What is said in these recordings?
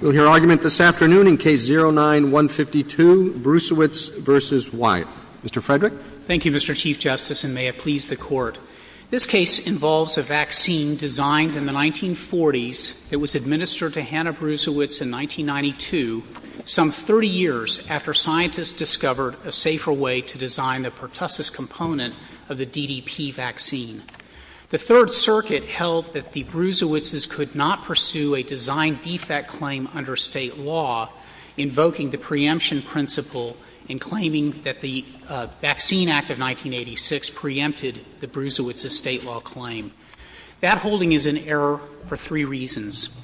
Thank you, Mr. Chief Justice, and may it please the Court. This case involves a vaccine designed in the 1940s. It was administered to Hannah Bresewitz in 1992, some 30 years after scientists discovered a safer way to design the pertussis component of the DDP vaccine. The Third Circuit held that the Bresewitzes could not pursue a design defect claim under State law, invoking the preemption principle in claiming that the Vaccine Act of 1986 preempted the Bresewitzes' State law claim. That holding is in error for three reasons.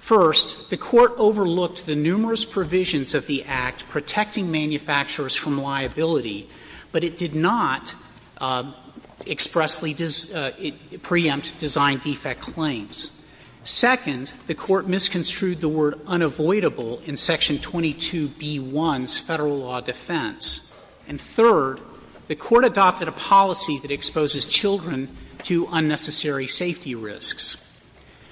First, the Court overlooked the numerous provisions of the Act protecting manufacturers from liability, but it did not expressly preempt design defect claims. Second, the Court misconstrued the word unavoidable in Section 22b-1's Federal law defense. And third, the Court adopted a policy that exposes children to unnecessary safety risks.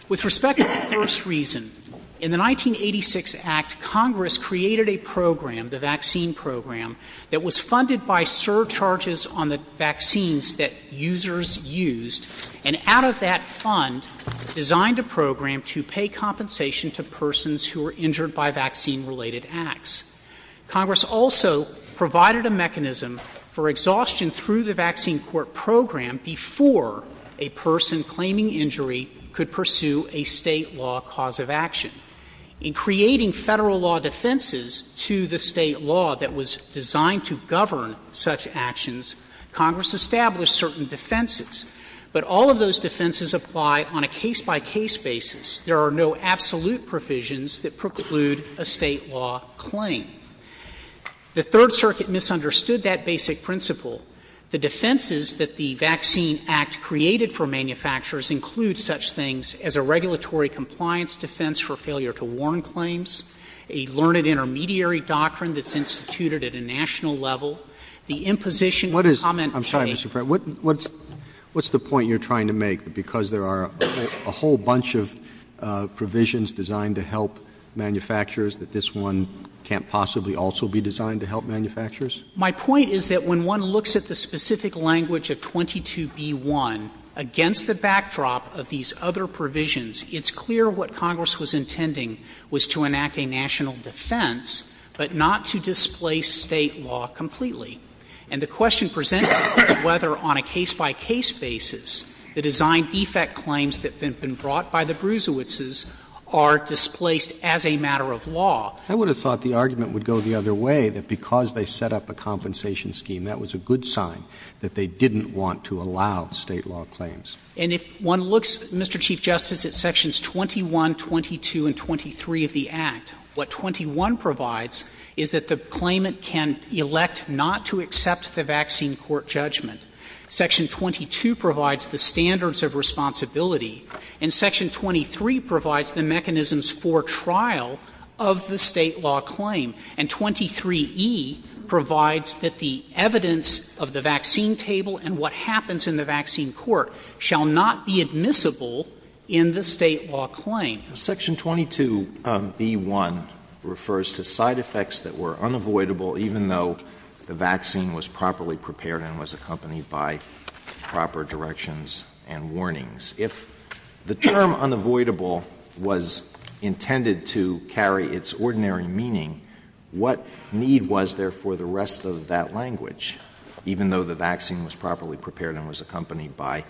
With respect to the first reason, in the 1986 Act, Congress created a program, the Vaccine Program, that was funded by surcharges on the vaccines that users used, and out of that fund designed a program to pay compensation to persons who were injured by vaccine-related acts. Congress also provided a mechanism for exhaustion through the Vaccine Court program before a person claiming injury could pursue a State law cause of action. In creating Federal law defenses to the State law that was designed to govern such actions, Congress established certain defenses. But all of those defenses apply on a case-by-case basis. There are no absolute provisions that preclude a State law claim. The Third Circuit misunderstood that basic principle. The defenses that the Vaccine Act created for manufacturers include such things as a regulatory compliance defense for failure to warn claims, a learned intermediary doctrine that's instituted at a national level, the imposition of comment by a state law claim. Roberts. What is the point you're trying to make, that because there are a whole bunch of provisions designed to help manufacturers that this one can't possibly also be designed to help manufacturers? My point is that when one looks at the specific language of 22b-1, against the backdrop of these other provisions, it's clear what Congress was intending was to enact a national defense, but not to displace State law completely. And the question presents whether, on a case-by-case basis, the design-defect claims that have been brought by the Bruisewitzes are displaced as a matter of law. I would have thought the argument would go the other way, that because they set up a compensation scheme, that was a good sign that they didn't want to allow State law claims. And if one looks, Mr. Chief Justice, at Sections 21, 22, and 23 of the Act, what 21 provides is that the claimant can elect not to accept the vaccine court judgment. Section 22 provides the standards of responsibility, and Section 23 provides the mechanisms for trial of the State law claim. And 23e provides that the evidence of the vaccine table and what happens in the vaccine court shall not be admissible in the State law claim. Section 22b-1 refers to side effects that were unavoidable, even though the vaccine was properly prepared and was accompanied by proper directions and warnings. If the term unavoidable was intended to carry its ordinary meaning, what need was there for the rest of that language, even though the vaccine was properly prepared and was accompanied by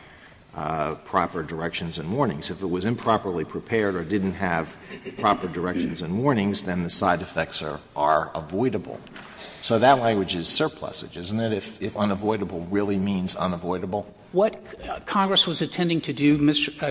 proper directions and warnings? If it was improperly prepared or didn't have proper directions and warnings, then the side effects are avoidable. So that language is surplusage, isn't it, if unavoidable really means unavoidable? What Congress was intending to do,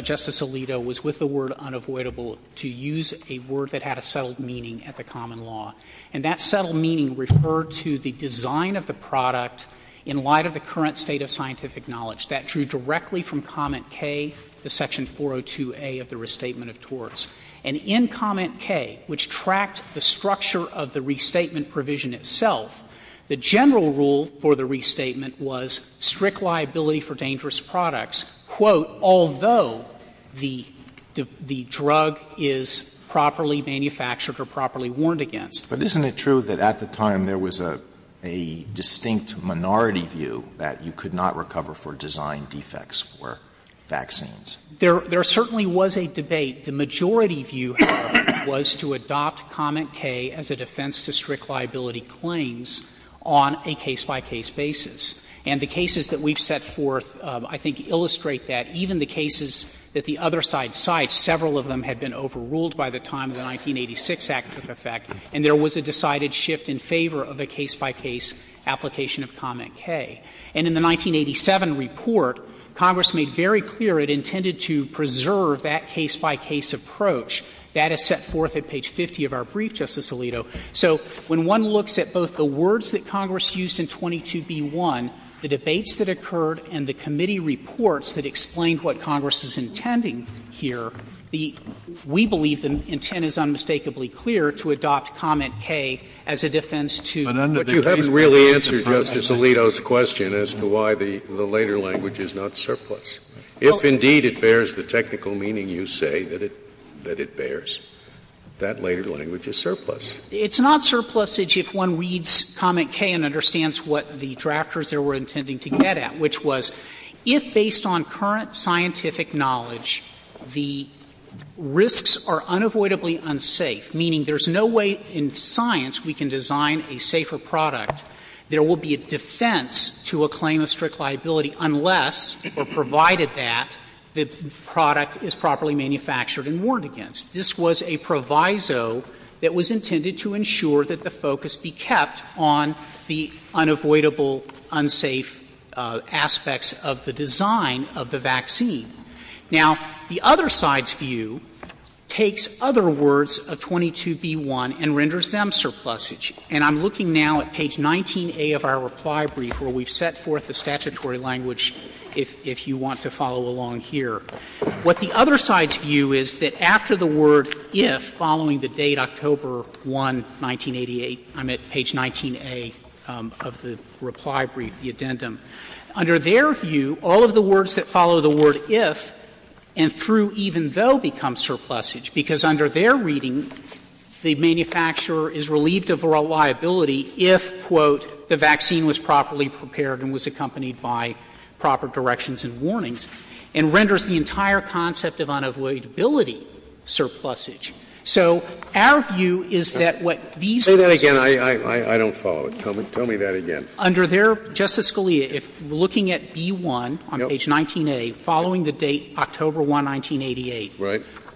Justice Alito, was with the word unavoidable to use a word that had a settled meaning at the common law. And that settled meaning referred to the design of the product in light of the current state of scientific knowledge that drew directly from comment K, the section 402a of the Restatement of Torts. And in comment K, which tracked the structure of the restatement provision itself, the general rule for the restatement was strict liability for dangerous products, quote, although the drug is properly manufactured or properly warned against. But isn't it true that at the time there was a distinct minority view that you could not recover for design defects for vaccines? There certainly was a debate. The majority view, however, was to adopt comment K as a defense to strict liability claims on a case-by-case basis. And the cases that we've set forth, I think, illustrate that. Even the cases that the other side cites, several of them had been overruled by the time the 1986 Act took effect. And there was a decided shift in favor of a case-by-case application of comment K. And in the 1987 report, Congress made very clear it intended to preserve that case-by-case approach. That is set forth at page 50 of our brief, Justice Alito. So when one looks at both the words that Congress used in 22b1, the debates that occurred, and the committee reports that explained what Congress is intending here, the we believe the intent is unmistakably clear to adopt comment K as a defense to a case-by-case application of comment K. Scalia, but you haven't really answered Justice Alito's question as to why the later language is not surplus. If, indeed, it bears the technical meaning you say that it bears, that later language is surplus. It's not surplus if one reads comment K and understands what the drafters there were intending to get at, which was, if, based on current scientific knowledge, the risks are unavoidably unsafe, meaning there's no way in science we can design a safer product, there will be a defense to a claim of strict liability unless, or provided that, the product is properly manufactured and warned against. This was a proviso that was intended to ensure that the focus be kept on the unavoidable and unsafe aspects of the design of the vaccine. Now, the other side's view takes other words of 22b-1 and renders them surplusage. And I'm looking now at page 19a of our reply brief where we've set forth a statutory language if you want to follow along here. What the other side's view is that after the word if, following the date October 1, 1988, I'm at page 19a of the reply brief, the addendum, under their view, all of the words that follow the word if and through even though become surplusage, because under their reading, the manufacturer is relieved of reliability if, quote, the vaccine was properly prepared and was accompanied by proper directions and warnings, and renders the entire concept of unavoidability surplusage. So our view is that what these words do is that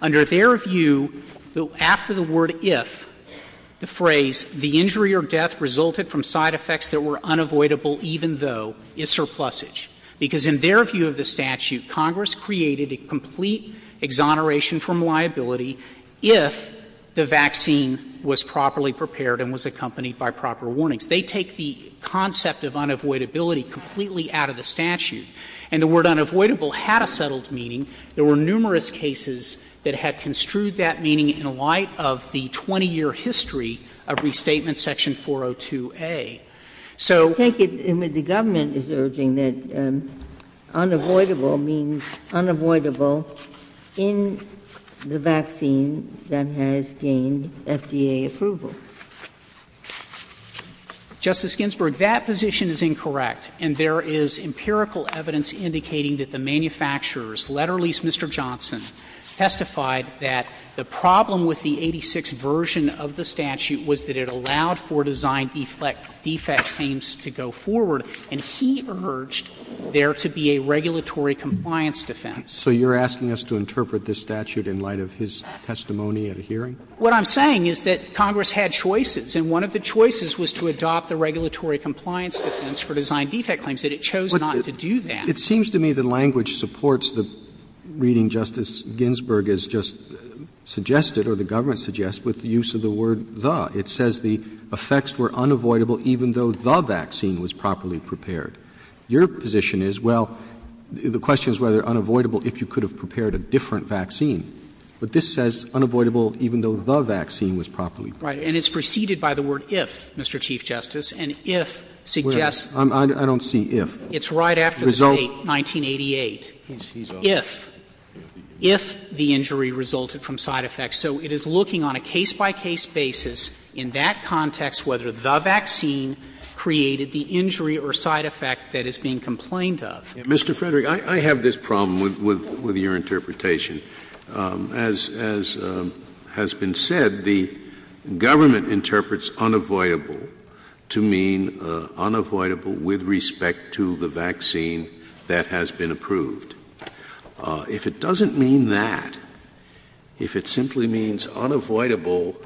under their view after the word if, the phrase, the injury or death resulted from side effects that were unavoidable even though is surplusage, because in their view of the statute, Congress created a complete exoneration from liability if the vaccine was properly prepared and rendered if the vaccine was properly prepared and was accompanied by proper warnings. They take the concept of unavoidability completely out of the statute. And the word unavoidable had a settled meaning. There were numerous cases that had construed that meaning in light of the 20-year history of Restatement Section 402a. So the government is urging that unavoidable means unavoidable in the vaccine. And that has gained FDA approval. Frederick, that position is incorrect, and there is empirical evidence indicating that the manufacturers, let alone Mr. Johnson, testified that the problem with the 86 version of the statute was that it allowed for design defect claims to go forward, and he urged there to be a regulatory compliance defense. Roberts, so you're asking us to interpret this statute in light of his testimony at a hearing? Frederick, what I'm saying is that Congress had choices, and one of the choices was to adopt the regulatory compliance defense for design defect claims, and it chose not to do that. Roberts, it seems to me the language supports the reading Justice Ginsburg has just suggested, or the government suggests, with the use of the word the. It says the effects were unavoidable even though the vaccine was properly prepared. Your position is, well, the question is whether unavoidable if you could have prepared a different vaccine. But this says unavoidable even though the vaccine was properly prepared. Frederick, and it's preceded by the word if, Mr. Chief Justice, and if suggests that. Roberts, I don't see if. It's right after the date 1988. If. If the injury resulted from side effects. So it is looking on a case-by-case basis in that context whether the vaccine created the injury or side effect that is being complained of. Mr. Frederick, I have this problem with your interpretation. As has been said, the government interprets unavoidable to mean unavoidable with respect to the vaccine that has been approved. If it doesn't mean that, if it simply means unavoidable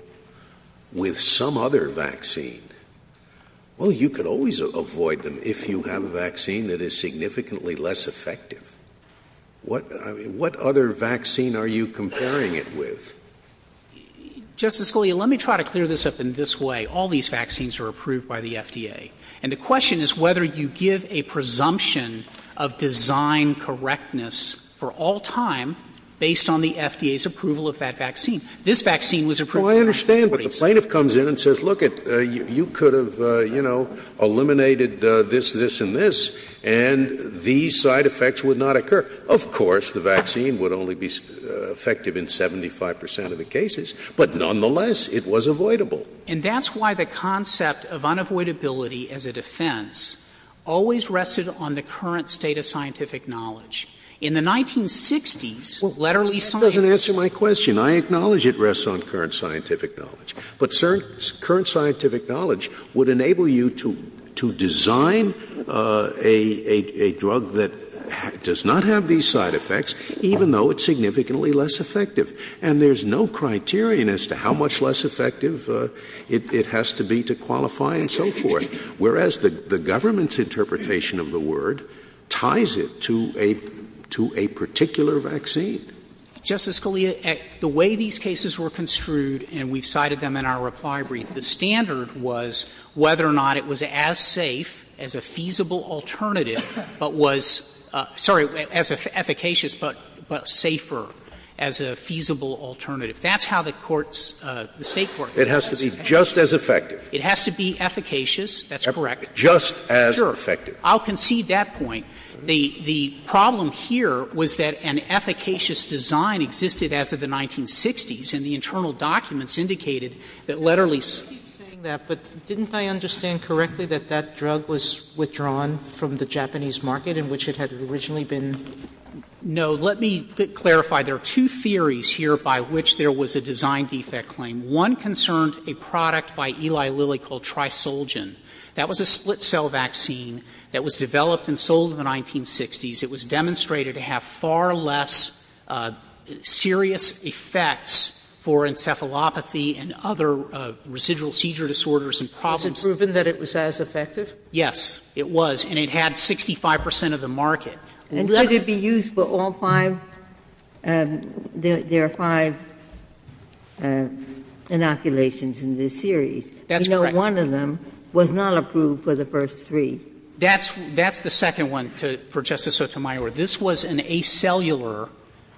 with some other vaccine, well, you could always avoid them if you have a vaccine that is significantly less effective. What other vaccine are you comparing it with? Justice Scalia, let me try to clear this up in this way. All these vaccines are approved by the FDA. And the question is whether you give a presumption of design correctness for all time based on the FDA's approval of that vaccine. This vaccine was approved by the FDA. Well, I understand, but the plaintiff comes in and says, look, you could have, you know, eliminated this, this, and this, and these side effects would not occur. Of course, the vaccine would only be effective in 75 percent of the cases, but nonetheless it was avoidable. And that's why the concept of unavoidability as a defense always rested on the current state of scientific knowledge. In the 1960s, letterly science was used. Well, that doesn't answer my question. I acknowledge it rests on current scientific knowledge. But current scientific knowledge would enable you to design a drug that does not have these side effects, even though it's significantly less effective. And there's no criterion as to how much less effective it has to be to qualify and so forth. Whereas the government's interpretation of the word ties it to a particular vaccine. Justice Scalia, the way these cases were construed, and we've cited them in our reply brief, the standard was whether or not it was as safe as a feasible alternative, but was — sorry, as efficacious, but safer as a feasible alternative. That's how the Court's — the State court's interpretation of it was. It has to be just as effective. It has to be efficacious. That's correct. Just as effective. Sure. I'll concede that point. The problem here was that an efficacious design existed as of the 1960s, and the internal documents indicated that letterly — I keep saying that, but didn't I understand correctly that that drug was withdrawn from the Japanese market in which it had originally been? No. Let me clarify. There are two theories here by which there was a design defect claim. One concerned a product by Eli Lilly called Trisulgin. That was a split-cell vaccine that was developed and sold in the 1960s. It was demonstrated to have far less serious effects for encephalopathy and other residual seizure disorders and problems. Was it proven that it was as effective? Yes, it was. And it had 65 percent of the market. And could it be used for all five — there are five inoculations in this series. That's correct. But one of them was not approved for the first three. That's the second one, for Justice Sotomayor. This was an acellular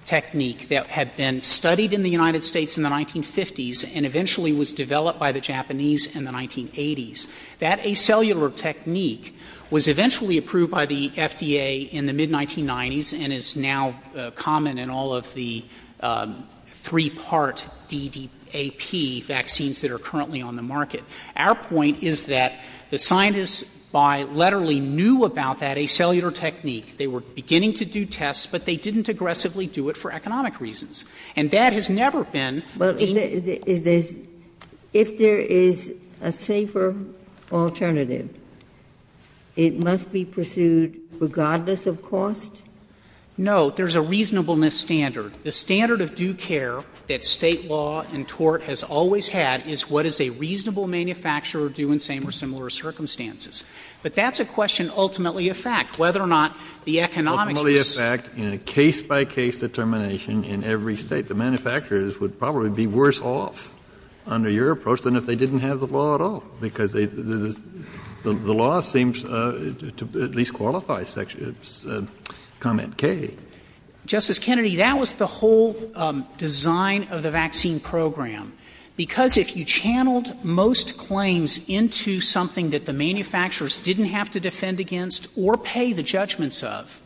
technique that had been studied in the United States in the 1950s and eventually was developed by the Japanese in the 1980s. That acellular technique was eventually approved by the FDA in the mid-1990s and is now common in all of the three-part DDAP vaccines that are currently on the market. Our point is that the scientists by letterly knew about that acellular technique. They were beginning to do tests, but they didn't aggressively do it for economic reasons. And that has never been the case. If there is a safer alternative, it must be pursued regardless of cost? No. There is a reasonableness standard. The standard of due care that State law and tort has always had is what is a reasonable manufacturer due in same or similar circumstances. But that's a question ultimately of fact, whether or not the economics were safe. Kennedy, the law seems to at least qualify section — comment K. Justice Kennedy, that was the whole design of the vaccine program. Because if you channeled most claims into something that the manufacturers didn't have to defend against or pay the judgments of,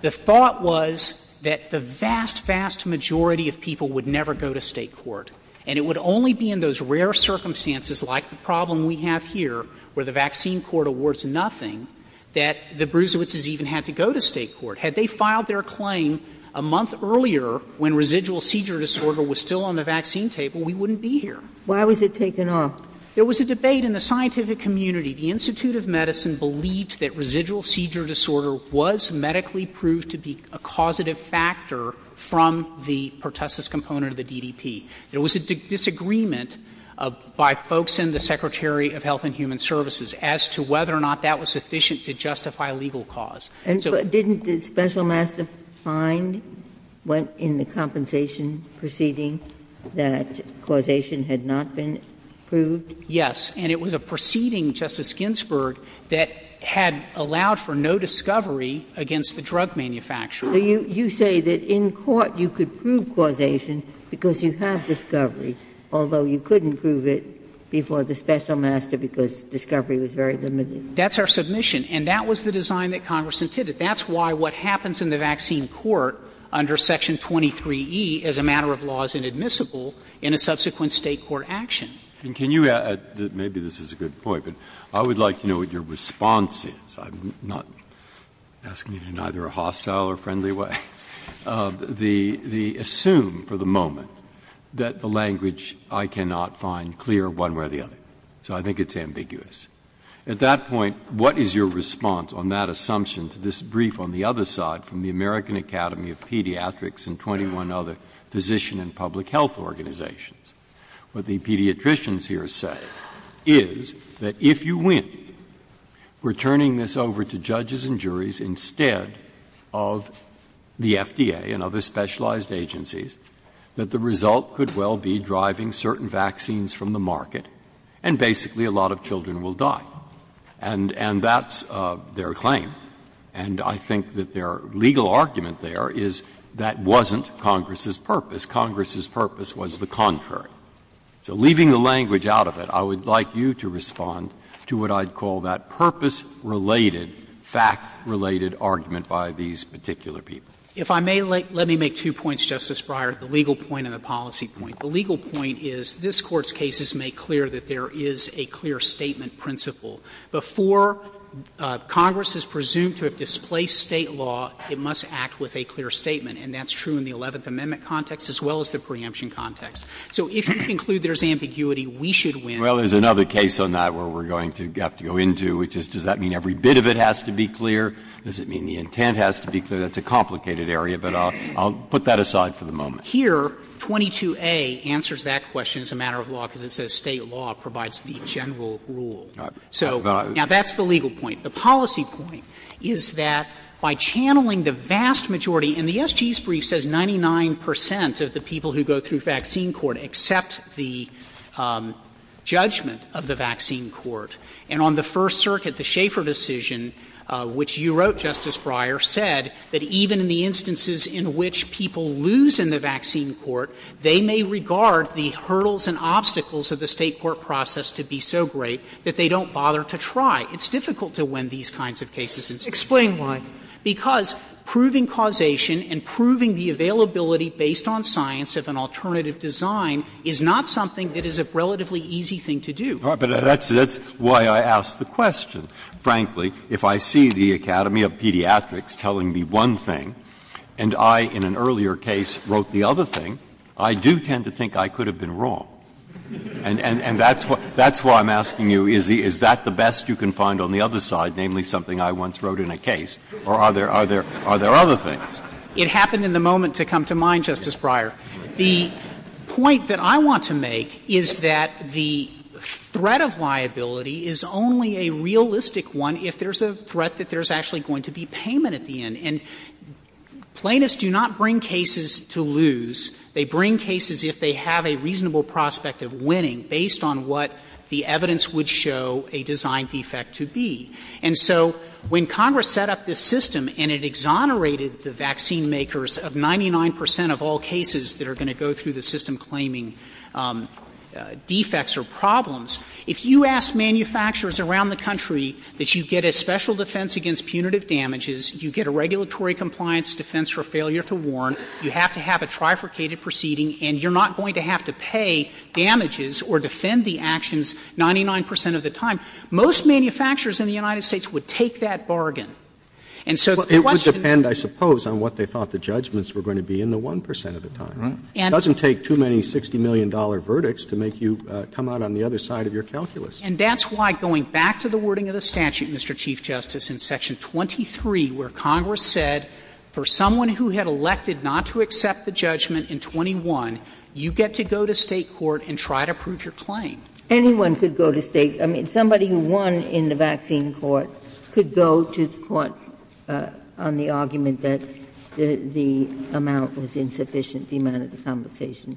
the thought was that the vast, vast majority of people would never go to State court. And it would only be in those rare circumstances, like the problem we have here where the vaccine court awards nothing, that the Brusewitzes even had to go to State court. Had they filed their claim a month earlier when residual seizure disorder was still on the vaccine table, we wouldn't be here. Why was it taken off? There was a debate in the scientific community. The Institute of Medicine believed that residual seizure disorder was medically proved to be a causative factor from the pertussis component of the DDP. There was a disagreement by folks in the Secretary of Health and Human Services as to whether or not that was sufficient to justify legal cause. And so didn't the special master find in the compensation proceeding that causation had not been proved? Yes. And it was a proceeding, Justice Ginsburg, that had allowed for no discovery against the drug manufacturer. So you say that in court you could prove causation because you have discovery, although you couldn't prove it before the special master because discovery was very limited? That's our submission. And that was the design that Congress intended. That's why what happens in the vaccine court under Section 23e as a matter of law is inadmissible in a subsequent State court action. Breyer. And can you add to that? Maybe this is a good point, but I would like to know what your response is. I'm not asking it in either a hostile or friendly way. The assume for the moment that the language I cannot find clear one way or the other. So I think it's ambiguous. At that point, what is your response on that assumption to this brief on the other side from the American Academy of Pediatrics and 21 other physician and public health organizations? What the pediatricians here say is that if you win, we're turning this over to judges and juries instead of the FDA and other specialized agencies, that the result could as well be driving certain vaccines from the market, and basically a lot of children will die. And that's their claim. And I think that their legal argument there is that wasn't Congress's purpose. Congress's purpose was the contrary. So leaving the language out of it, I would like you to respond to what I'd call that purpose-related, fact-related argument by these particular people. If I may, let me make two points, Justice Breyer, the legal point and the policy point. The legal point is this Court's case is made clear that there is a clear statement principle. Before Congress is presumed to have displaced State law, it must act with a clear statement, and that's true in the Eleventh Amendment context as well as the preemption context. So if you conclude there's ambiguity, we should win. Breyer, there's another case on that where we're going to have to go into, which is does that mean every bit of it has to be clear? Does it mean the intent has to be clear? That's a complicated area, but I'll put that aside for the moment. Here, 22a answers that question as a matter of law because it says State law provides the general rule. So now that's the legal point. The policy point is that by channeling the vast majority, and the SG's brief says 99 percent of the people who go through vaccine court accept the judgment of the vaccine court. And on the First Circuit, the Schaeffer decision, which you wrote, Justice Breyer, said that even in the instances in which people lose in the vaccine court, they may regard the hurdles and obstacles of the State court process to be so great that they don't bother to try. It's difficult to win these kinds of cases in State court. Sotomayor, explain why. Because proving causation and proving the availability based on science of an alternative design is not something that is a relatively easy thing to do. Breyer, but that's why I asked the question. Frankly, if I see the Academy of Pediatrics telling me one thing and I, in an earlier case, wrote the other thing, I do tend to think I could have been wrong. And that's why I'm asking you, is that the best you can find on the other side, namely something I once wrote in a case, or are there other things? It happened in the moment to come to mind, Justice Breyer. The point that I want to make is that the threat of liability is only a realistic one if there's a threat that there's actually going to be payment at the end. And plaintiffs do not bring cases to lose. They bring cases if they have a reasonable prospect of winning based on what the evidence would show a design defect to be. And so when Congress set up this system and it exonerated the vaccine makers of 99 percent of all cases that are going to go through the system claiming defects or problems, if you ask manufacturers around the country that you get a special defense against punitive damages, you get a regulatory compliance defense for failure to warn, you have to have a trifurcated proceeding, and you're not going to have to pay damages or defend the actions 99 percent of the time, most manufacturers in the United States would take that bargain. And so the question doesn't take too many $60 million verdicts to make you come out on the other side of your calculus. out on the other side of your calculus. And that's why, going back to the wording of the statute, Mr. Chief Justice, in Section 23 where Congress said for someone who had elected not to accept the judgment in 21, you get to go to State court and try to prove your claim. Ginsburg Anyone could go to State. I mean, somebody who won in the vaccine court could go to court on the argument that the amount was insufficient, the amount of the compensation.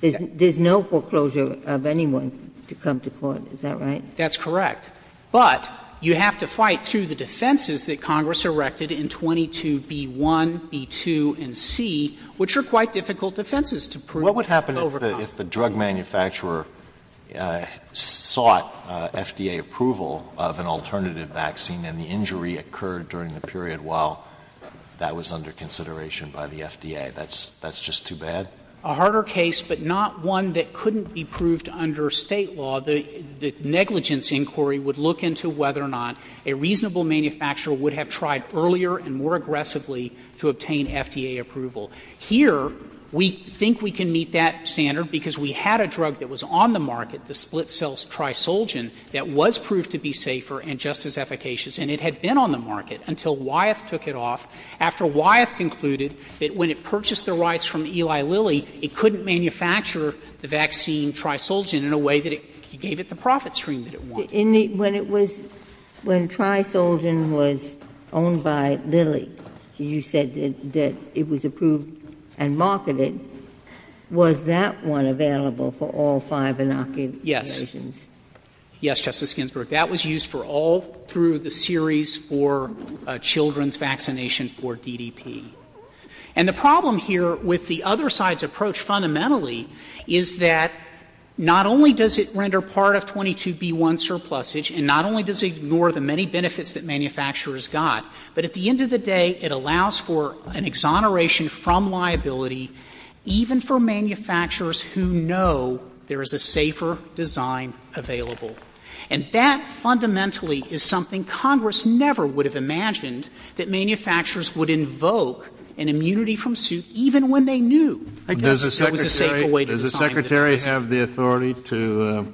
There's no foreclosure of anyone to come to court. Is that right? That's correct. But you have to fight through the defenses that Congress erected in 22b1, b2, and c, which are quite difficult defenses to prove. Alito What would happen if the drug manufacturer sought FDA approval of an alternative vaccine and the injury occurred during the period while that was under consideration by the FDA? That's just too bad? A harder case, but not one that couldn't be proved under State law. The negligence inquiry would look into whether or not a reasonable manufacturer would have tried earlier and more aggressively to obtain FDA approval. Here, we think we can meet that standard because we had a drug that was on the market, the split-cell Trisulgin, that was proved to be safer and just as efficacious, and it had been on the market until Wyeth took it off, after Wyeth concluded that when it purchased the rights from Eli Lilly, it couldn't manufacture the vaccine Trisulgin in a way that it gave it the profit stream that it wanted. Ginsburg When it was, when Trisulgin was owned by Lilly, you said that it was approved and marketed. Was that one available for all five inoculations? Frederick Yes. Yes, Justice Ginsburg. That was used for all through the series for children's vaccination for DDP. And the problem here with the other side's approach fundamentally is that not only does it render part of 22B1 surplusage and not only does it ignore the many benefits that manufacturers got, but at the end of the day, it allows for an exoneration from liability even for manufacturers who know there is a safer design available. And that fundamentally is something Congress never would have imagined, that manufacturers would invoke an immunity from suit even when they knew there was a safer way to design the vaccine. Kennedy Does the Secretary have the authority to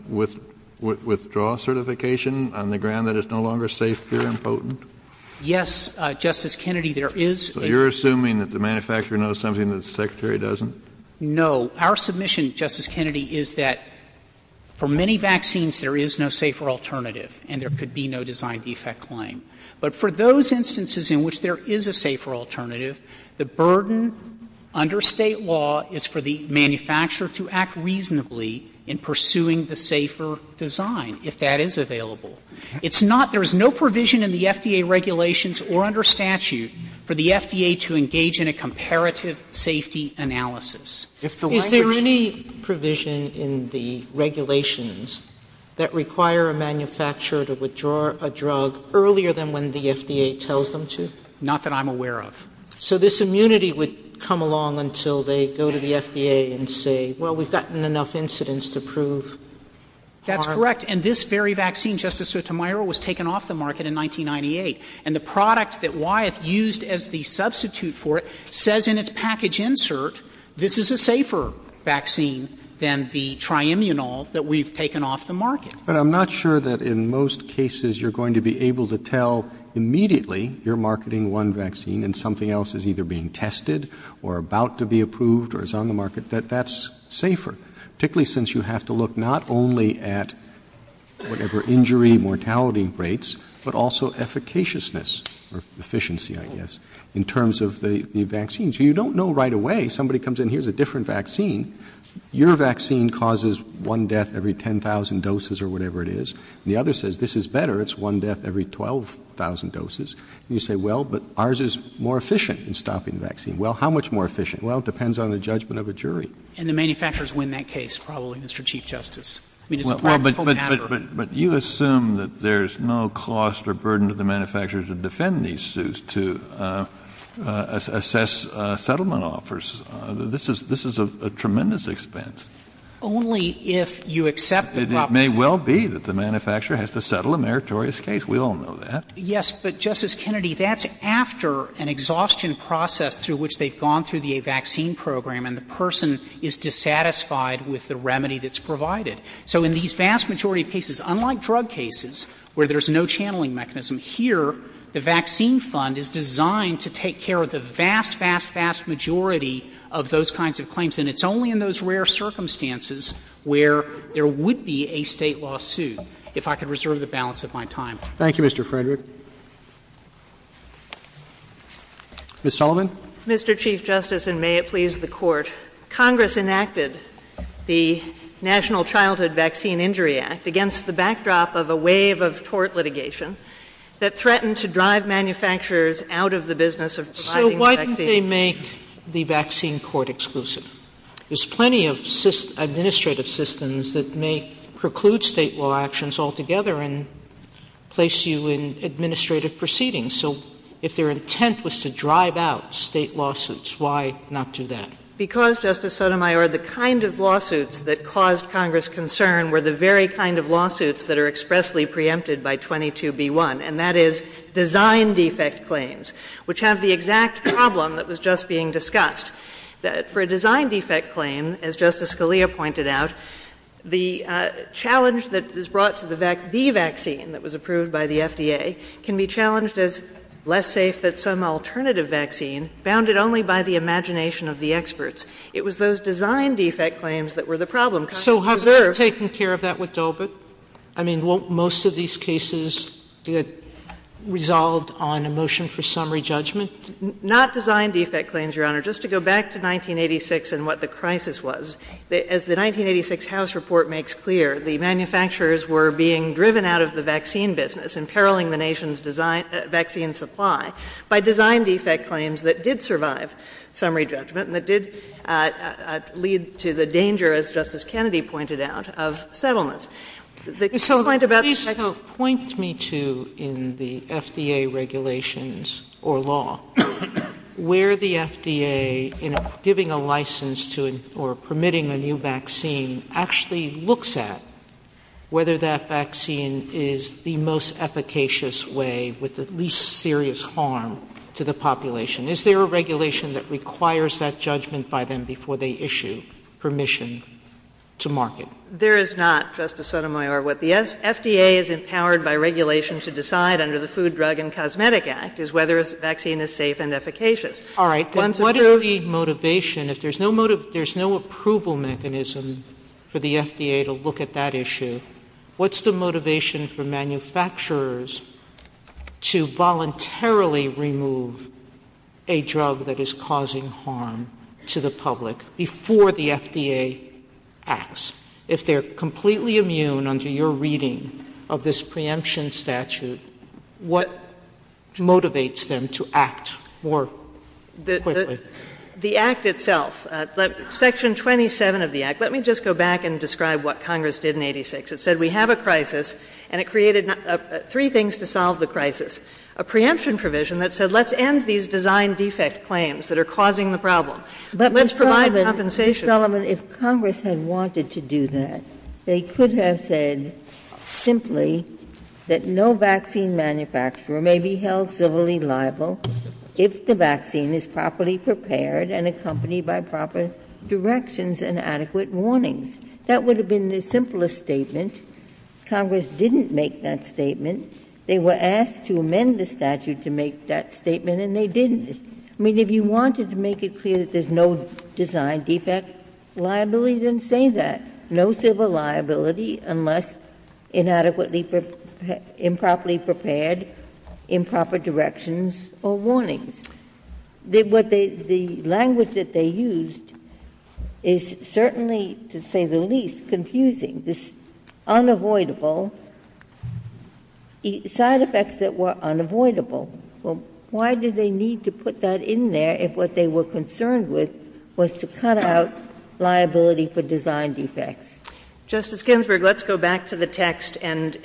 withdraw certification on the ground that it's no longer safe, pure, and potent? Frederick Yes, Justice Kennedy, there is a — Kennedy So you're assuming that the manufacturer knows something that the Secretary doesn't? Frederick No. Our submission, Justice Kennedy, is that for many vaccines there is no safer alternative and there could be no design defect claim. But for those instances in which there is a safer alternative, the burden under State law is for the manufacturer to act reasonably in pursuing the safer design, if that is available. It's not — there is no provision in the FDA regulations or under statute for the FDA to engage in a comparative safety analysis. Sotomayor Is there any provision in the regulations that require a manufacturer to withdraw a drug earlier than when the FDA tells them to? Frederick Not that I'm aware of. Sotomayor So this immunity would come along until they go to the FDA and say, well, we've gotten enough incidents to prove our — Frederick That's correct. And this very vaccine, Justice Sotomayor, was taken off the market in 1998. And the product that Wyeth used as the substitute for it says in its package insert, this is a safer vaccine than the tri-immunol that we've taken off the market. Roberts But I'm not sure that in most cases you're going to be able to tell immediately you're marketing one vaccine and something else is either being tested or about to be approved or is on the market, that that's safer, particularly since you have to look not only at whatever injury mortality rates, but also efficaciousness or efficiency, I guess, in terms of the vaccines. You don't know right away. Somebody comes in, here's a different vaccine. Your vaccine causes one death every 10,000 doses or whatever it is. The other says, this is better. It's one death every 12,000 doses. You say, well, but ours is more efficient in stopping the vaccine. Well, how much more efficient? Well, it depends on the judgment of a jury. Frederick And the manufacturers win that case, probably, Mr. Chief Justice. I mean, it's a political matter. Kennedy But you assume that there's no cost or burden to the manufacturers to defend these suits, to assess settlement offers. This is a tremendous expense. Frederick Only if you accept the proposition — Kennedy — that the manufacturer has to settle a meritorious case. We all know that. Frederick Yes. But, Justice Kennedy, that's after an exhaustion process through which they've gone through the vaccine program, and the person is dissatisfied with the remedy that's provided. So in these vast majority of cases, unlike drug cases, where there's no channeling mechanism, here the vaccine fund is designed to take care of the vast, vast, vast majority of those kinds of claims. And it's only in those rare circumstances where there would be a State lawsuit. If I could reserve the balance of my time. Roberts Thank you, Mr. Frederick. Ms. Sullivan. Sullivan Mr. Chief Justice, and may it please the Court, Congress enacted the National Childhood Vaccine Injury Act against the backdrop of a wave of tort litigation that threatened to drive manufacturers out of the business of providing the vaccine. Sotomayor So why didn't they make the vaccine court exclusive? There's plenty of administrative systems that may preclude State law actions altogether and place you in administrative proceedings. So if their intent was to drive out State lawsuits, why not do that? Sullivan Because, Justice Sotomayor, the kind of lawsuits that caused Congress concern were the very kind of lawsuits that are expressly preempted by 22b1, and that is design defect claims, which have the exact problem that was just being discussed. For a design defect claim, as Justice Scalia pointed out, the challenge that is brought to the vaccine that was approved by the FDA can be challenged as less safe than some alternative vaccine bounded only by the imagination of the experts. It was those design defect claims that were the problem. Sotomayor So have they taken care of that with Dobit? I mean, won't most of these cases get resolved on a motion for summary judgment? Sullivan Not design defect claims, Your Honor. Just to go back to 1986 and what the crisis was, as the 1986 House report makes clear, the manufacturers were being driven out of the vaccine business, imperiling the nation's design — vaccine supply by design defect claims that did survive summary judgment and that did lead to the danger, as Justice Kennedy pointed out, of settlements. The complaint about the — Sotomayor So point me to, in the FDA regulations or law, where the FDA, in giving a license to or permitting a new vaccine, actually looks at whether that vaccine is the most efficacious way with the least serious harm to the population. Is there a regulation that requires that judgment by them before they issue permission to market? Sullivan There is not, Justice Sotomayor. What the FDA is empowered by regulation to decide under the Food, Drug, and Cosmetic Act is whether a vaccine is safe and efficacious. Sotomayor All right. Then what is the motivation? If there's no — there's no approval mechanism for the FDA to look at that issue, what's the motivation for manufacturers to voluntarily remove a drug that is causing harm to the public before the FDA acts? If they're completely immune under your reading of this preemption statute, what motivates them to act more quickly? Sullivan The Act itself, Section 27 of the Act. Let me just go back and describe what Congress did in 1986. It said we have a crisis and it created three things to solve the crisis. A preemption provision that said let's end these design defect claims that are causing the problem. Let's provide compensation. Ginsburg If Congress had wanted to do that, they could have said simply that no vaccine manufacturer may be held civilly liable if the vaccine is properly prepared and accompanied by proper directions and adequate warnings. That would have been the simplest statement. Congress didn't make that statement. They were asked to amend the statute to make that statement, and they didn't. I mean, if you wanted to make it clear that there's no design defect liability, then say that. No civil liability unless inadequately improperly prepared, improper directions or warnings. The language that they used is certainly, to say the least, confusing. This unavoidable, side effects that were unavoidable. Well, why did they need to put that in there if what they were concerned with was to cut out liability for design defects? Kagan Justice Ginsburg, let's go back to the text and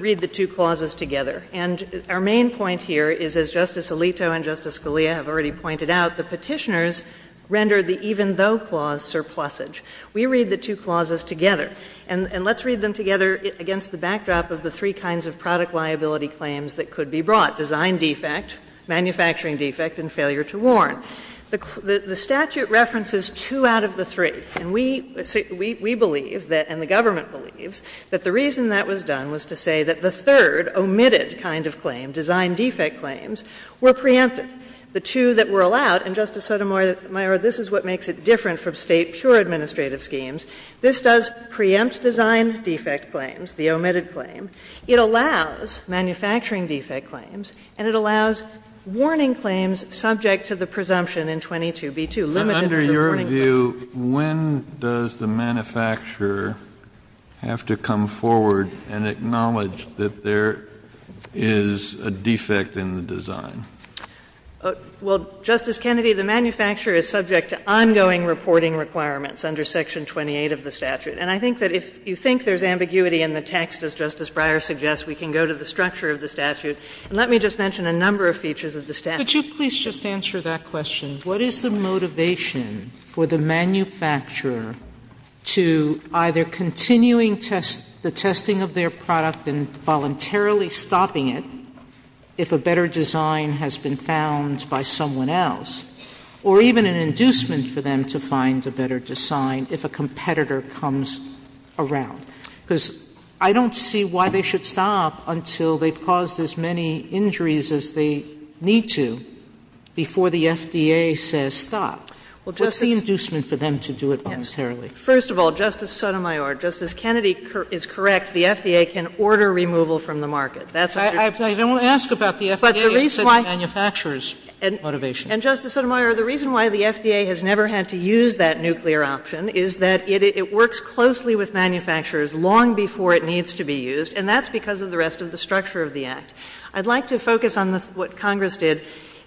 read the two clauses together. And our main point here is, as Justice Alito and Justice Scalia have already pointed out, the Petitioners rendered the even though clause surplusage. We read the two clauses together, and let's read them together against the backdrop of the three kinds of product liability claims that could be brought, design defect, manufacturing defect, and failure to warn. The statute references two out of the three. And we believe that, and the government believes, that the reason that was done was to say that the third omitted kind of claim, design defect claims, were preempted. The two that were allowed, and, Justice Sotomayor, this is what makes it different from State pure administrative schemes, this does preempt design defect claims, the omitted claim, it allows manufacturing defect claims, and it allows warning claims subject to the presumption in 22b2, limited to the warning claims. Kennedy And under your view, when does the manufacturer have to come forward and acknowledge that there is a defect in the design? Kagan Well, Justice Kennedy, the manufacturer is subject to ongoing reporting requirements under Section 28 of the statute. And I think that if you think there is ambiguity in the text, as Justice Breyer suggests, we can go to the structure of the statute. And let me just mention a number of features of the statute. Sotomayor Could you please just answer that question? What is the motivation for the manufacturer to either continuing the testing of their product and voluntarily stopping it if a better design has been found by someone else, or even an inducement for them to find a better design if a competitor comes around? Because I don't see why they should stop until they've caused as many injuries as they need to before the FDA says stop. What's the inducement for them to do it voluntarily? Kagan First of all, Justice Sotomayor, Justice Kennedy is correct, the FDA can order removal from the market. Sotomayor I don't ask about the FDA, it's the manufacturer's motivation. Kagan And, Justice Sotomayor, the reason why the FDA has never had to use that nuclear option is that it works closely with manufacturers long before it needs to be used. And that's because of the rest of the structure of the Act. I'd like to focus on what Congress did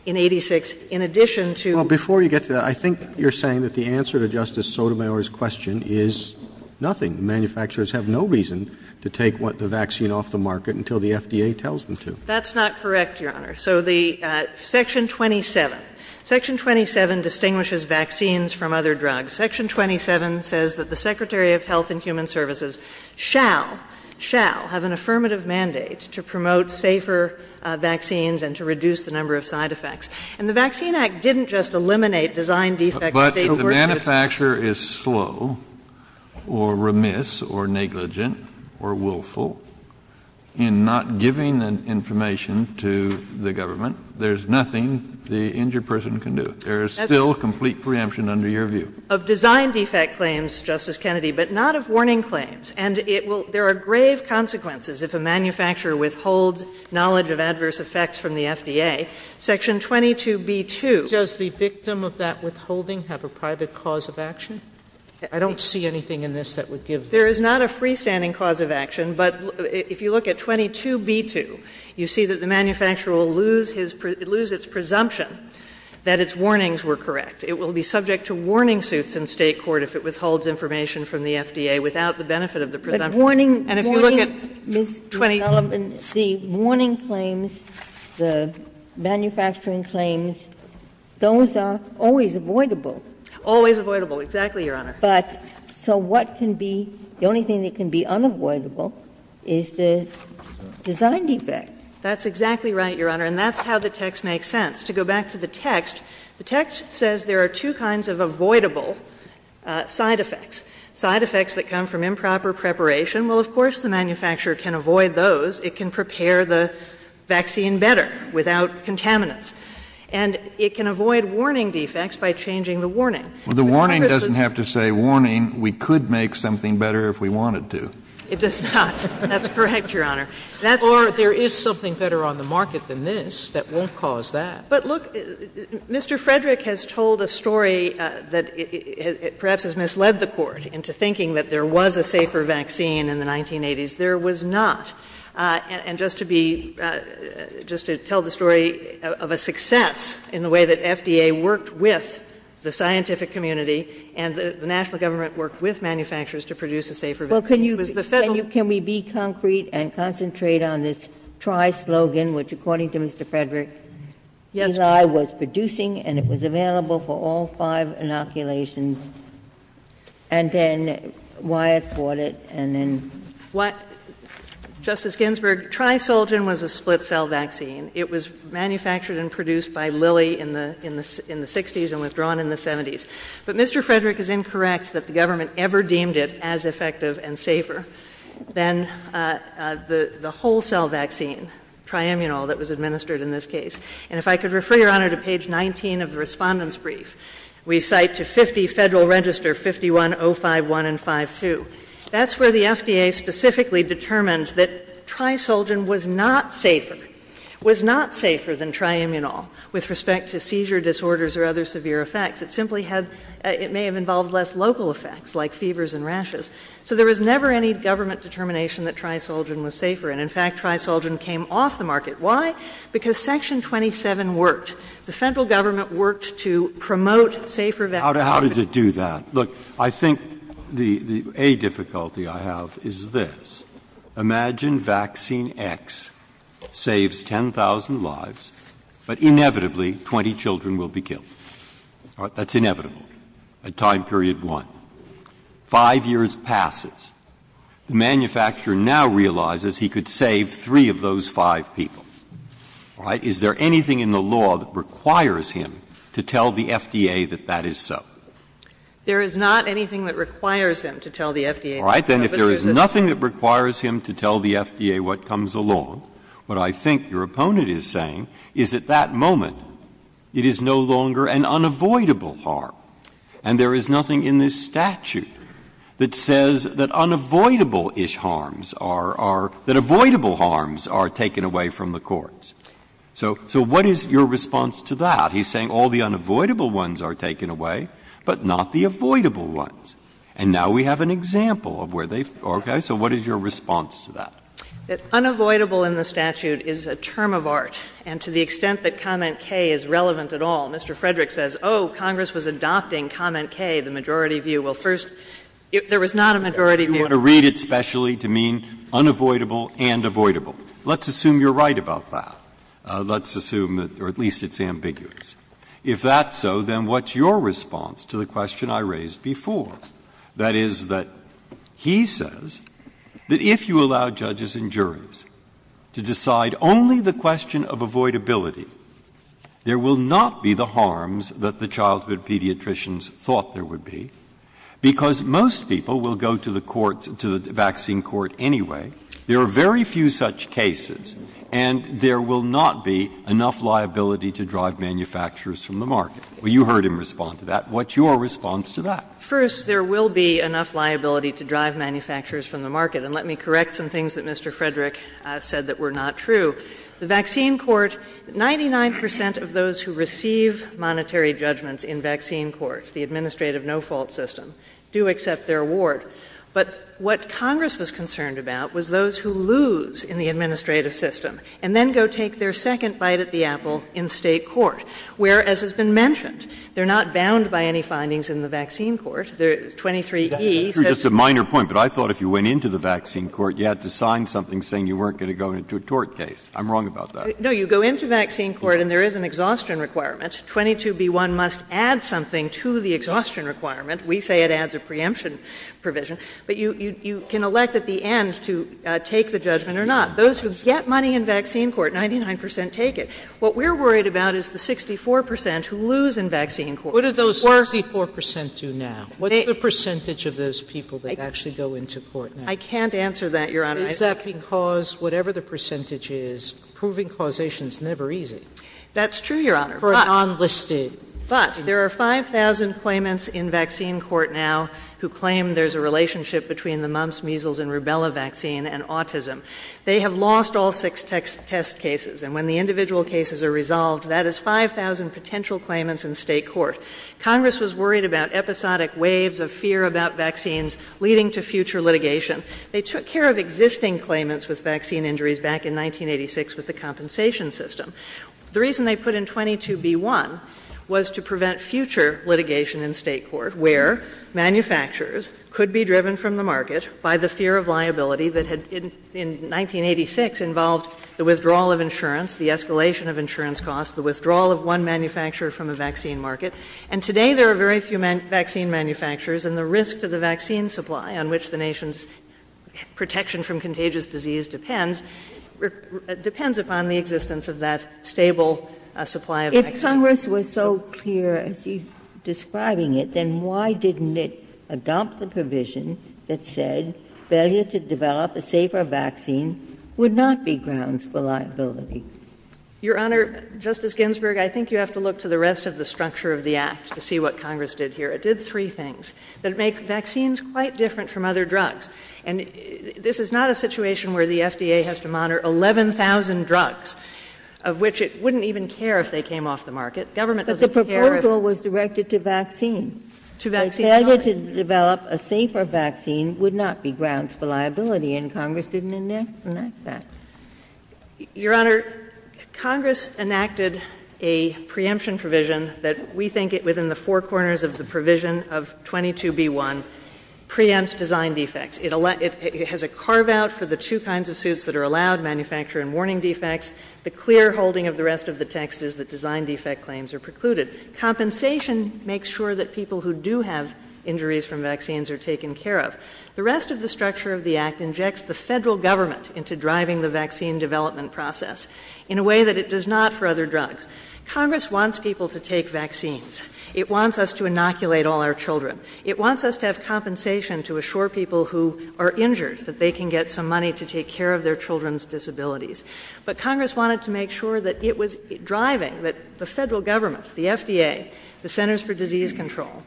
in 86 in addition to Roberts Well, before you get to that, I think you're saying that the answer to Justice Sotomayor's question is nothing. Manufacturers have no reason to take the vaccine off the market until the FDA tells them to. Kagan That's not correct, Your Honor. So the Section 27, Section 27 distinguishes vaccines from other drugs. Section 27 says that the Secretary of Health and Human Services shall, shall have an affirmative mandate to promote safer vaccines and to reduce the number of side effects. And the Vaccine Act didn't just eliminate design defects, but they overstood Sotomayor But if the manufacturer is slow or remiss or negligent or willful in not giving the information to the government, there's nothing the injured person can do. There is still complete preemption under your view. Kagan Of design defect claims, Justice Kennedy, but not of warning claims. And it will — there are grave consequences if a manufacturer withholds knowledge of adverse effects from the FDA. Section 22B2 — Sotomayor Does the victim of that withholding have a private cause of action? I don't see anything in this that would give — Kagan There is not a freestanding cause of action, but if you look at 22B2, you see that the manufacturer will lose his — lose its presumption that its warnings were correct. It will be subject to warning suits in State court if it withholds information from the FDA without the benefit of the presumption. And if you look at 22 — Ginsburg But warning — warning, Ms. Sullivan, the warning claims, the manufacturing claims, those are always avoidable. Kagan Always avoidable, exactly, Your Honor. But so what can be — the only thing that can be unavoidable is the design defect. Sullivan That's exactly right, Your Honor, and that's how the text makes sense. To go back to the text, the text says there are two kinds of avoidable side effects, side effects that come from improper preparation. Well, of course, the manufacturer can avoid those. It can prepare the vaccine better without contaminants. And it can avoid warning defects by changing the warning. Kennedy Well, the warning doesn't have to say, warning, we could make something better if we wanted to. Sullivan It does not. That's correct, Your Honor. That's why — Sotomayor Or there is something better on the market than this that won't cause that. Sullivan But, look, Mr. Frederick has told a story that perhaps has misled the Court into thinking that there was a safer vaccine in the 1980s. There was not. And just to be — just to tell the story of a success in the way that FDA worked with the scientific community and the national government worked with manufacturers to produce a safer vaccine. It was the Federal — Ginsburg Well, can you — can we be concrete and concentrate on this Tri-Slogan, which, according to Mr. Frederick, Eli was producing and it was available for all five inoculations, and then Wyatt bought it, and then — Sullivan Justice Ginsburg, Tri-Slogan was a split-cell vaccine. It was manufactured and produced by Lilly in the — in the 60s and withdrawn in the 70s. But Mr. Frederick is incorrect that the government ever deemed it as effective and safer than the whole-cell vaccine, Tri-Immunol, that was administered in this case. And if I could refer, Your Honor, to page 19 of the Respondent's brief, we cite to 50 Federal Register, 51.051 and 52. That's where the FDA specifically determined that Tri-Slogan was not safer, was not safer than Tri-Immunol with respect to seizure disorders or other severe effects. It simply had — it may have involved less local effects, like fevers and rashes. So there was never any government determination that Tri-Slogan was safer. And, in fact, Tri-Slogan came off the market. Why? Because Section 27 worked. The Federal government worked to promote safer vaccine. Breyer, How does it do that? Look, I think the — a difficulty I have is this. Imagine vaccine X saves 10,000 lives, but inevitably 20 children will be killed. All right? That's inevitable at time period 1. Five years passes. The manufacturer now realizes he could save three of those five people. All right? Is there anything in the law that requires him to tell the FDA that that is so? All right. Then if there is nothing that requires him to tell the FDA what comes along, what I think your opponent is saying is at that moment it is no longer an unavoidable harm. And there is nothing in this statute that says that unavoidable-ish harms are — that avoidable harms are taken away from the courts. So what is your response to that? He's saying all the unavoidable ones are taken away, but not the avoidable ones. And now we have an example of where they've — okay? So what is your response to that? That unavoidable in the statute is a term of art, and to the extent that comment K is relevant at all, Mr. Frederick says, oh, Congress was adopting comment K, the majority view. Well, first, there was not a majority view. You want to read it specially to mean unavoidable and avoidable. Let's assume you're right about that. Let's assume that — or at least it's ambiguous. If that's so, then what's your response to the question I raised before? That is that he says that if you allow judges and juries to decide only the question of avoidability, there will not be the harms that the childhood pediatricians thought there would be, because most people will go to the court — to the vaccine court anyway. There are very few such cases, and there will not be enough liability to drive manufacturers from the market. Well, you heard him respond to that. What's your response to that? First, there will be enough liability to drive manufacturers from the market. And let me correct some things that Mr. Frederick said that were not true. The vaccine court — 99 percent of those who receive monetary judgments in vaccine courts, the administrative no-fault system, do accept their award. But what Congress was concerned about was those who lose in the administrative system and then go take their second bite at the apple in State court, where, as has been mentioned, they're not bound by any findings in the vaccine court. The 23E says — Just a minor point, but I thought if you went into the vaccine court, you had to sign something saying you weren't going to go into a tort case. I'm wrong about that. No, you go into vaccine court, and there is an exhaustion requirement. 22B1 must add something to the exhaustion requirement. We say it adds a preemption provision. But you can elect at the end to take the judgment or not. Those who get money in vaccine court, 99 percent take it. What we're worried about is the 64 percent who lose in vaccine court. What do those 64 percent do now? What's the percentage of those people that actually go into court now? I can't answer that, Your Honor. Is that because, whatever the percentage is, proving causation is never easy? That's true, Your Honor. For a non-listed — But there are 5,000 claimants in vaccine court now who claim there's a relationship between the mumps, measles, and rubella vaccine and autism. They have lost all six test cases. And when the individual cases are resolved, that is 5,000 potential claimants in state court. Congress was worried about episodic waves of fear about vaccines leading to future litigation. They took care of existing claimants with vaccine injuries back in 1986 with the compensation system. The reason they put in 22B1 was to prevent future litigation in state court where manufacturers could be driven from the market by the fear of liability that had, in 1986, involved the withdrawal of insurance, the escalation of insurance costs, the withdrawal of one manufacturer from a vaccine market. And today there are very few vaccine manufacturers, and the risk to the vaccine supply on which the nation's protection from contagious disease depends, depends upon the existence of that stable supply of vaccines. Ginsburg. If Congress was so clear as to describing it, then why didn't it adopt the provision that said failure to develop a safer vaccine would not be grounds for liability? Your Honor, Justice Ginsburg, I think you have to look to the rest of the structure of the Act to see what Congress did here. It did three things. It made vaccines quite different from other drugs. And this is not a situation where the FDA has to monitor 11,000 drugs, of which it wouldn't even care if they came off the market. Government doesn't care if the proposal was directed to vaccines. If failure to develop a safer vaccine would not be grounds for liability, and Congress didn't enact that. Your Honor, Congress enacted a preemption provision that we think within the four corners of the provision of 22b1 preempts design defects. It has a carve-out for the two kinds of suits that are allowed, manufacturer and warning defects. The clear holding of the rest of the text is that design defect claims are precluded. Compensation makes sure that people who do have injuries from vaccines are taken care of. The rest of the structure of the Act injects the federal government into driving the vaccine development process in a way that it does not for other drugs. Congress wants people to take vaccines. It wants us to inoculate all our children. It wants us to have compensation to assure people who are injured that they can get some money to take care of their children's disabilities. But Congress wanted to make sure that it was driving, that the federal government, the FDA, the Centers for Disease Control,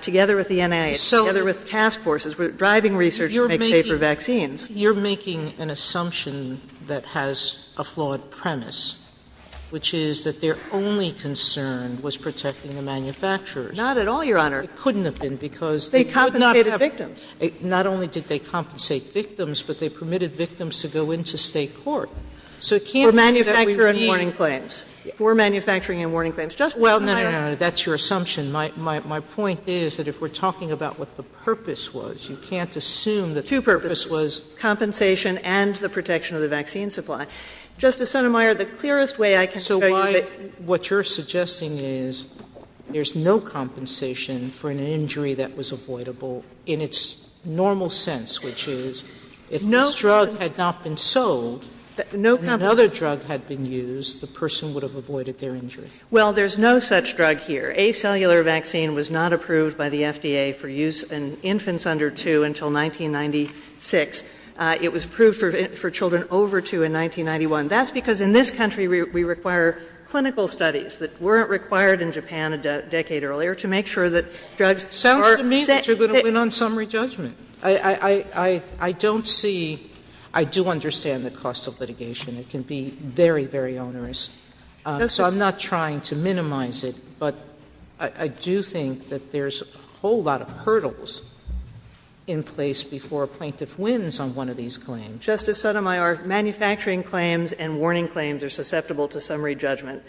together with the NIH, together with task forces, were driving research to make safer vaccines. Sotomayor, you're making an assumption that has a flawed premise, which is that their only concern was protecting the manufacturers. Not at all, Your Honor. It couldn't have been, because they could not have been. They compensated victims. Not only did they compensate victims, but they permitted victims to go into State court. So it can't be that we need to. Kagan For manufacturing and warning claims. Justice Sotomayor. Sotomayor, that's your assumption. My point is that if we're talking about what the purpose was, you can't assume that the purpose was. Kagan Two purposes, compensation and the protection of the vaccine supply. Justice Sotomayor, the clearest way I can tell you that. Sotomayor So why what you're suggesting is there's no compensation for an injury that was avoidable in its normal sense, which is if this drug had not been sold, and another drug had been used, the person would have avoided their injury. Kagan Well, there's no such drug here. Acellular vaccine was not approved by the FDA for use in infants under 2 until 1996. It was approved for children over 2 in 1991. That's because in this country we require clinical studies that weren't required in Japan a decade earlier to make sure that drugs are safe. Sotomayor Sounds to me that you're going to win on summary judgment. I don't see, I do understand the cost of litigation. It can be very, very onerous. So I'm not trying to minimize it, but I do think that there's a whole lot of hurdles in place before a plaintiff wins on one of these claims. Kagan Justice Sotomayor, manufacturing claims and warning claims are susceptible to summary judgment.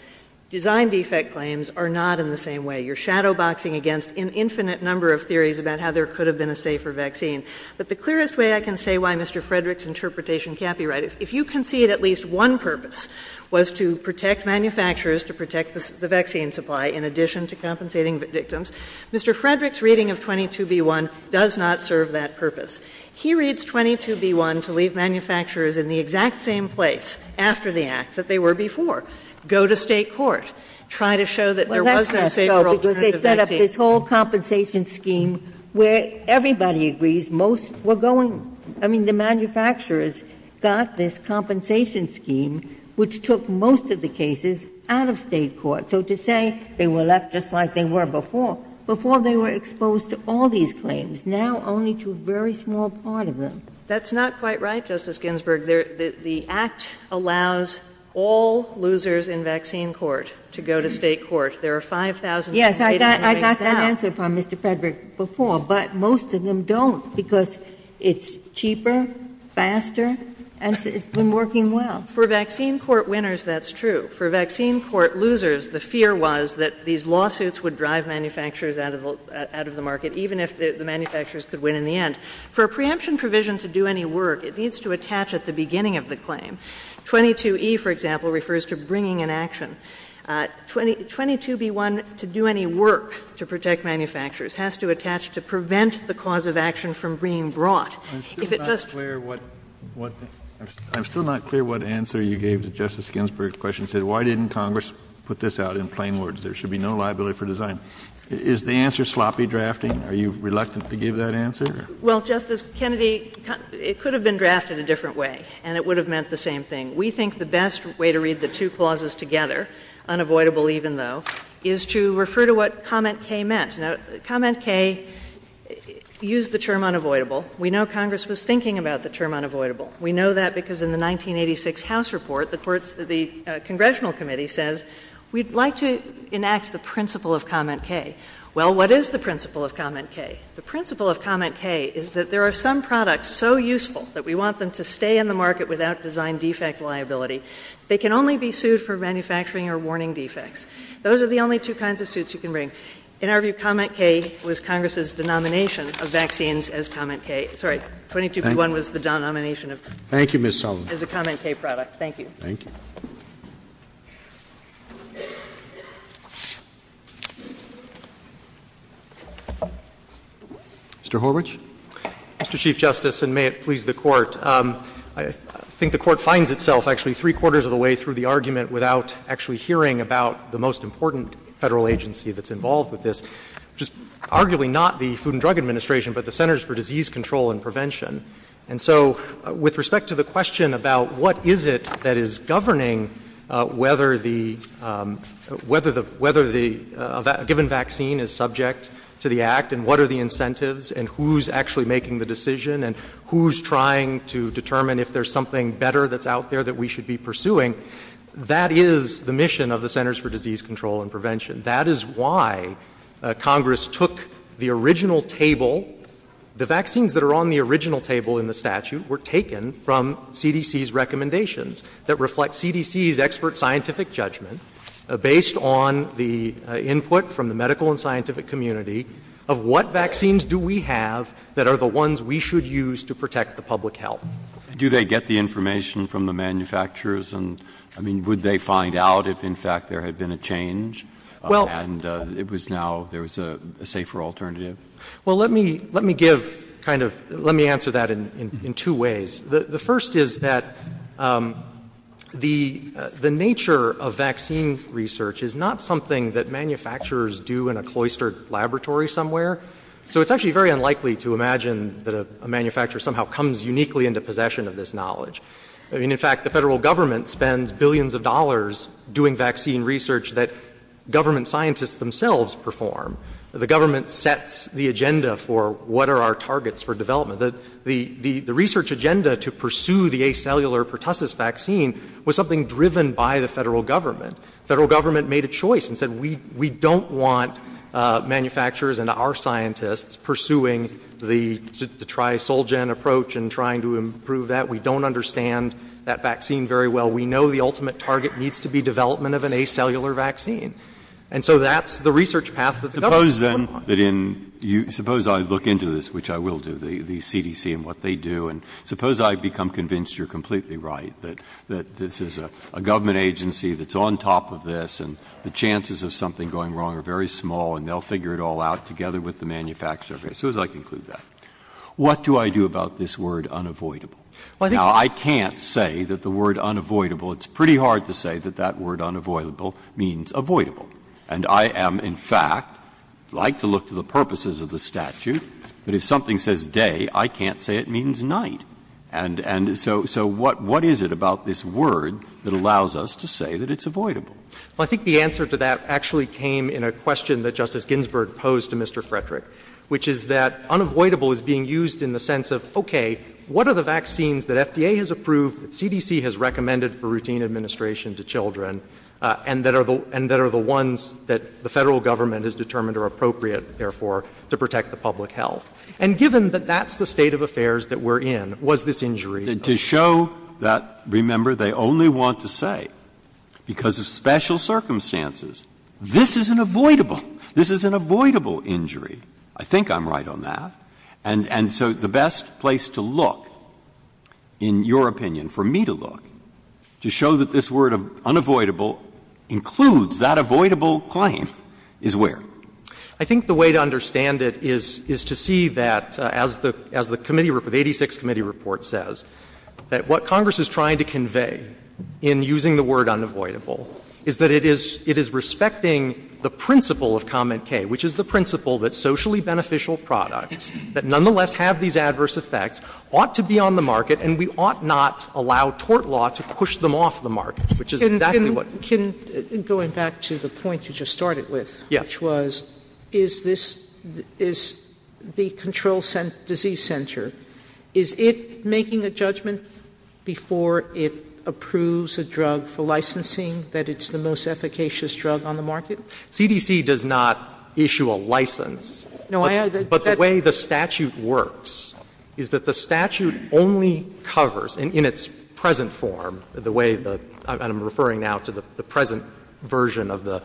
Design defect claims are not in the same way. You're shadow boxing against an infinite number of theories about how there could have been a safer vaccine. But the clearest way I can say why Mr. Frederick's interpretation can't be right, if you concede at least one purpose was to protect manufacturers, to protect the vaccine supply in addition to compensating the victims, Mr. Frederick's reading of 22B1 does not serve that purpose. He reads 22B1 to leave manufacturers in the exact same place after the act that they were before, go to state court, try to show that there was no safer alternative because they set up this whole compensation scheme where everybody agrees most were going. I mean, the manufacturers got this compensation scheme, which took most of the cases out of state court. So to say they were left just like they were before, before they were exposed to all these claims, now only to a very small part of them. That's not quite right, Justice Ginsburg. The Act allows all losers in vaccine court to go to state court. There are 5,000 cases. Yes, I got that answer from Mr. Frederick before, but most of them don't, because it's cheaper, faster, and it's been working well. For vaccine court winners, that's true. For vaccine court losers, the fear was that these lawsuits would drive manufacturers out of the market, even if the manufacturers could win in the end. For a preemption provision to do any work, it needs to attach at the beginning of the claim. 22E, for example, refers to bringing an action. 22B1, to do any work to protect manufacturers, has to attach to prevent the cause of action from being brought. If it does — I'm still not clear what — I'm still not clear what answer you gave to Justice Ginsburg's question. You said, why didn't Congress put this out in plain words? There should be no liability for design. Is the answer sloppy drafting? Are you reluctant to give that answer? Well, Justice Kennedy, it could have been drafted a different way, and it would have meant the same thing. We think the best way to read the two clauses together, unavoidable even, though, is to refer to what comment K meant. Now, comment K used the term unavoidable. We know Congress was thinking about the term unavoidable. We know that because in the 1986 House report, the courts — the congressional committee says, we'd like to enact the principle of comment K. Well, what is the principle of comment K? The principle of comment K is that there are some products so useful that we want them to stay in the market without design defect liability. They can only be sued for manufacturing or warning defects. Those are the only two kinds of suits you can bring. In our view, comment K was Congress's denomination of vaccines as comment K. Sorry, 22B1 was the denomination of — Thank you, Ms. Sullivan. — as a comment K product. Thank you. Thank you. Mr. Horwich. Mr. Chief Justice, and may it please the Court. I think the Court finds itself actually three-quarters of the way through the argument without actually hearing about the most important Federal agency that's involved with this, which is arguably not the Food and Drug Administration, but the Centers for Disease Control and Prevention. And so with respect to the question about what is it that is governing whether the — whether the — whether the given vaccine is subject to the Act, and what are the incentives, and who's actually making the decision, and who's trying to determine if there's something better that's out there that we should be pursuing, that is the mission of the Centers for Disease Control and Prevention. That is why Congress took the original table — the vaccines that are on the original table in the statute were taken from CDC's recommendations that reflect CDC's expert scientific judgment based on the input from the medical and scientific community of what vaccines do we have that are the ones we should use to protect the public health. Do they get the information from the manufacturers? And, I mean, would they find out if, in fact, there had been a change and it was now — there was a safer alternative? Well, let me — let me give kind of — let me answer that in two ways. The first is that the — the nature of vaccine research is not something that manufacturers do in a cloistered laboratory somewhere. So it's actually very unlikely to imagine that a manufacturer somehow comes uniquely into possession of this knowledge. I mean, in fact, the Federal Government spends billions of dollars doing vaccine research that government scientists themselves perform. The government sets the agenda for what are our targets for development. The — the research agenda to pursue the Acellular pertussis vaccine was something driven by the Federal Government. Federal Government made a choice and said, we — we don't want manufacturers and our scientists pursuing the — the tri-sol-gen approach and trying to improve that. We don't understand that vaccine very well. We know the ultimate target needs to be development of an Acellular vaccine. And so that's the research path that the government is going on. Breyer. Suppose, then, that in — suppose I look into this, which I will do, the CDC and what they do, and suppose I become convinced you're completely right, that — that this is a government agency that's on top of this, and the chances of something going wrong are very small, and they'll figure it all out together with the manufacturer. Suppose I conclude that. What do I do about this word unavoidable? Now, I can't say that the word unavoidable — it's pretty hard to say that that word unavoidable means avoidable. And I am, in fact, like to look to the purposes of the statute, but if something says day, I can't say it means night. And so what is it about this word that allows us to say that it's avoidable? Well, I think the answer to that actually came in a question that Justice Ginsburg posed to Mr. Frederick, which is that unavoidable is being used in the sense of, okay, what are the vaccines that FDA has approved, that CDC has recommended for routine administration to children, and that are the ones that the Federal government has determined are appropriate, therefore, to protect the public health? And given that that's the state of affairs that we're in, was this injury? Breyer. To show that, remember, they only want to say, because of special circumstances, this is an avoidable, this is an avoidable injury. I think I'm right on that. And so the best place to look, in your opinion, for me to look, to show that this word unavoidable includes that avoidable claim, is where? I think the way to understand it is to see that, as the committee report, the 86th Committee report says, that what Congress is trying to convey in using the word unavoidable is that it is respecting the principle of comment K, which is the principle that socially beneficial products that nonetheless have these adverse effects ought to be on the market, and we ought not allow tort law to push them off the market, which is exactly what. Sotomayor, going back to the point you just started with, which was, is this, is the control disease center, is it making a judgment before it approves a drug for licensing that it's the most efficacious drug on the market? CDC does not issue a license. But the way the statute works is that the statute only covers, in its present form, the way the — and I'm referring now to the present version of the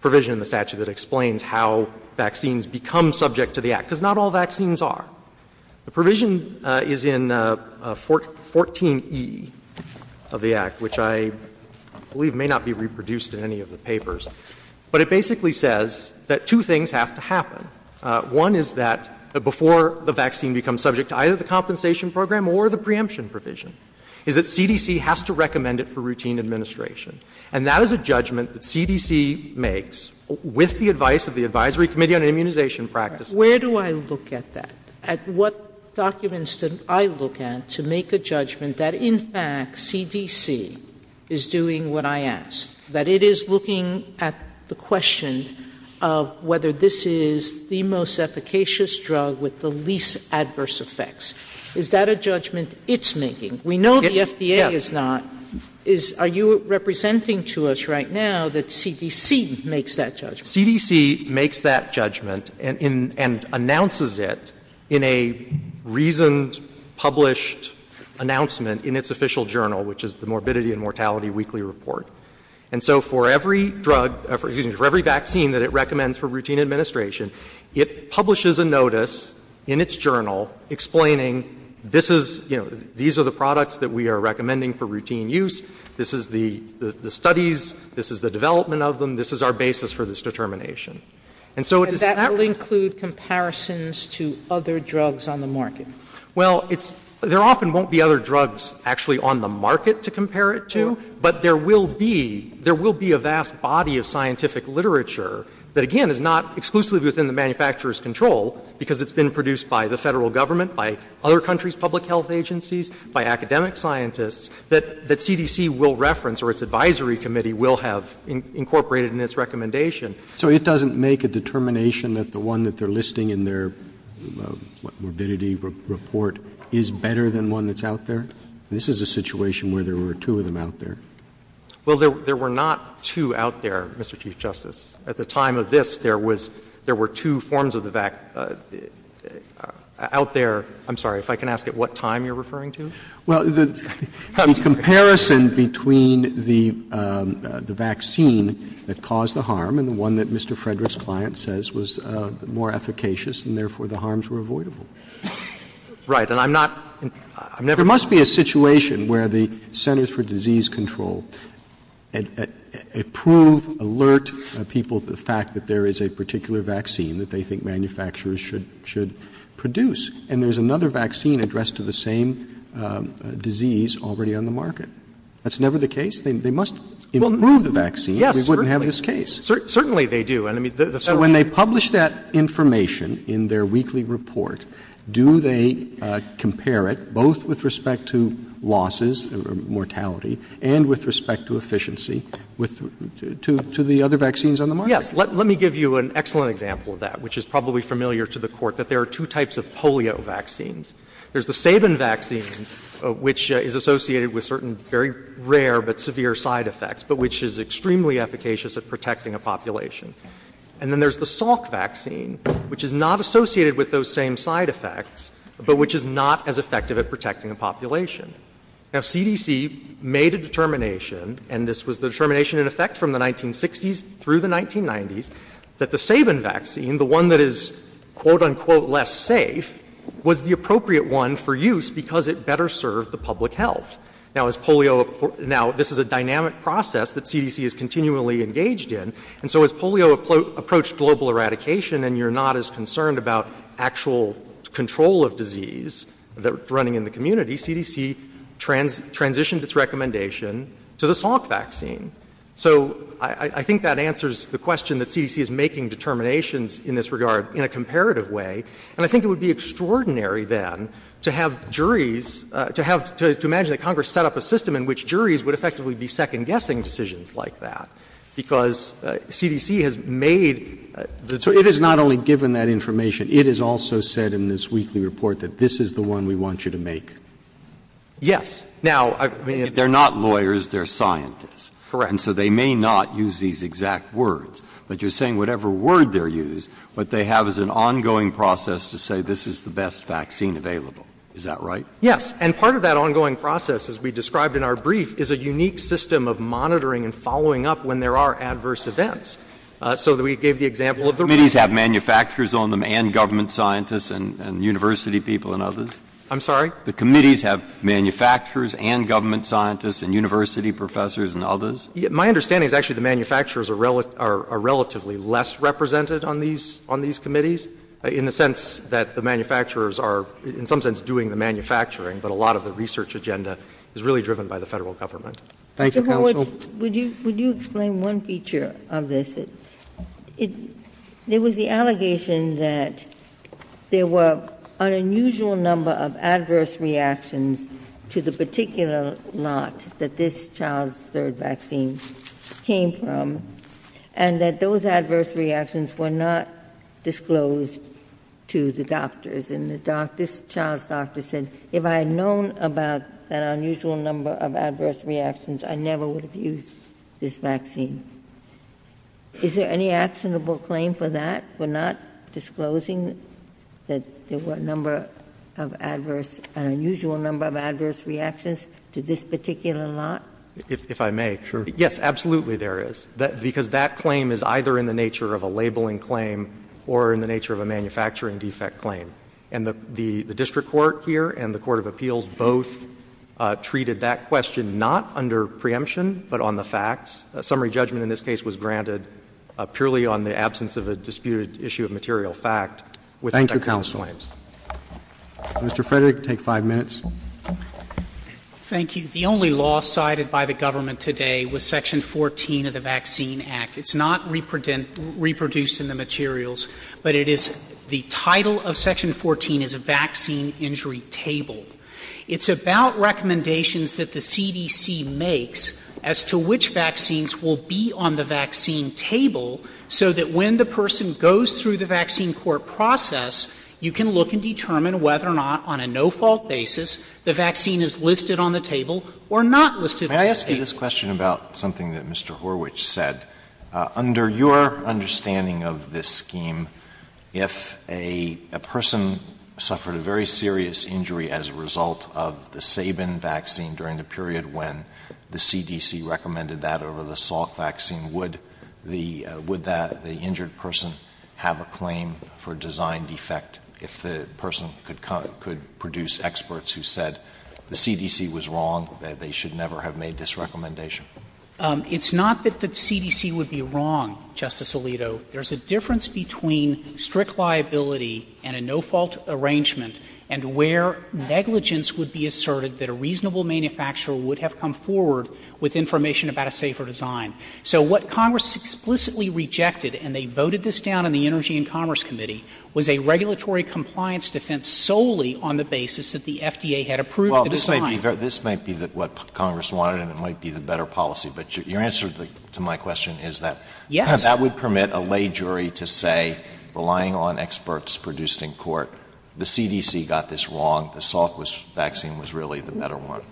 provision in the statute that explains how vaccines become subject to the Act, because not all vaccines are. The provision is in 14e of the Act, which I believe may not be reproduced in any of the papers, but it basically says that two things have to happen. One is that before the vaccine becomes subject to either the compensation program or the preemption provision, is that CDC has to recommend it for routine administration. And that is a judgment that CDC makes with the advice of the Advisory Committee on Immunization Practices. Sotomayor, where do I look at that, at what documents did I look at to make a judgment that in fact CDC is doing what I asked, that it is looking at the question of whether this is the most efficacious drug with the least adverse effects? Is that a judgment it's making? We know the FDA is not. Are you representing to us right now that CDC makes that judgment? Casey, CDC makes that judgment and announces it in a reasoned, published announcement in its official journal, which is the Morbidity and Mortality Weekly Report. And so for every drug — excuse me, for every vaccine that it recommends for routine administration, it publishes a notice in its journal explaining, this is, you know, these are the products that we are recommending for routine use, this is the studies, this is the development of them, this is our basis for this determination. And so it is not going to be. Sotomayor, that will include comparisons to other drugs on the market. Well, it's — there often won't be other drugs actually on the market to compare it to, but there will be — there will be a vast body of scientific literature that, again, is not exclusively within the manufacturer's control, because it's been produced by the Federal Government, by other countries' public health agencies, by academic scientists, that CDC will reference or its advisory committee will have incorporated in its recommendation. So it doesn't make a determination that the one that they are listing in their morbidity report is better than one that's out there? This is a situation where there were two of them out there. Well, there were not two out there, Mr. Chief Justice. At the time of this, there was — there were two forms of the vaccine out there. I'm sorry, if I can ask at what time you are referring to? Well, the comparison between the vaccine that caused the harm and the one that Mr. Frederick's client says was more efficacious and therefore the harms were avoidable. Right. And I'm not — I'm never— It's a situation where the Centers for Disease Control approve, alert people to the fact that there is a particular vaccine that they think manufacturers should produce, and there's another vaccine addressed to the same disease already on the market. That's never the case. They must approve the vaccine. We wouldn't have this case. Certainly they do. So when they publish that information in their weekly report, do they compare it, both with respect to losses, mortality, and with respect to efficiency, to the other vaccines on the market? Yes. Let me give you an excellent example of that, which is probably familiar to the Court, that there are two types of polio vaccines. There's the Sabin vaccine, which is associated with certain very rare but severe side effects, but which is extremely efficacious at protecting a population. And then there's the Salk vaccine, which is not associated with those same side effects, but which is not as effective at protecting a population. Now, CDC made a determination, and this was the determination in effect from the 1960s through the 1990s, that the Sabin vaccine, the one that is, quote, unquote, less safe, was the appropriate one for use because it better served the public health. Now, as polio — now, this is a dynamic process that CDC is continually engaged in, and so as polio approached global eradication and you're not as concerned about actual control of disease that's running in the community, CDC transitioned its recommendation to the Salk vaccine. So I think that answers the question that CDC is making determinations in this regard in a comparative way. And I think it would be extraordinary, then, to have juries — to have — to imagine that Congress set up a system in which juries would effectively be second-guessing decisions like that, because CDC has made the determination. It is not only given that information. It is also said in this weekly report that this is the one we want you to make. Yes. Now, I mean — If they're not lawyers, they're scientists. Correct. And so they may not use these exact words, but you're saying whatever word they're used, what they have is an ongoing process to say this is the best vaccine available. Is that right? Yes. And part of that ongoing process, as we described in our brief, is a unique system of monitoring and following up when there are adverse events. So we gave the example of the — The committees have manufacturers on them and government scientists and university people and others? I'm sorry? The committees have manufacturers and government scientists and university professors and others? My understanding is actually the manufacturers are relatively less represented on these committees, in the sense that the manufacturers are in some sense doing the manufacturing, but a lot of the research agenda is really driven by the Federal government. Thank you, counsel. Would you — would you explain one feature of this? It — there was the allegation that there were an unusual number of adverse reactions to the particular lot that this child's third vaccine came from, and that those adverse reactions were not disclosed to the doctors. And the doctor — this child's doctor said, if I had known about that unusual number of adverse reactions, I never would have used this vaccine. Is there any actionable claim for that, for not disclosing that there were a number of adverse — an unusual number of adverse reactions to this particular lot? If I may. Sure. Yes, absolutely there is, because that claim is either in the nature of a labeling claim or in the nature of a manufacturing defect claim. And the — the district court here and the court of appeals both treated that question not under preemption, but on the facts. A summary judgment in this case was granted purely on the absence of a disputed issue of material fact with effectual claims. Thank you, counsel. Mr. Frederick, you can take five minutes. Thank you. The only law cited by the government today was Section 14 of the Vaccine Act. It's not reproduced in the materials, but it is — the title of Section 14 is a vaccine injury table. It's about recommendations that the CDC makes as to which vaccines will be on the vaccine table, so that when the person goes through the vaccine court process, you can look and determine whether or not, on a no-fault basis, the vaccine is listed on the table or not listed on the table. Let me ask you this question about something that Mr. Horwich said. Under your understanding of this scheme, if a person suffered a very serious injury as a result of the Sabin vaccine during the period when the CDC recommended that over the Salk vaccine, would the — would the injured person have a claim for design defect if the person could produce experts who said the CDC was wrong, that they should never have made this recommendation? It's not that the CDC would be wrong, Justice Alito. There's a difference between strict liability and a no-fault arrangement and where negligence would be asserted that a reasonable manufacturer would have come forward with information about a safer design. So what Congress explicitly rejected, and they voted this down in the Energy and Commerce Committee, was a regulatory compliance defense solely on the basis that the FDA had approved the design. Alito, this might be what Congress wanted, and it might be the better policy, but your answer to my question is that that would permit a lay jury to say, relying on experts produced in court, the CDC got this wrong, the Salk vaccine was really the better one.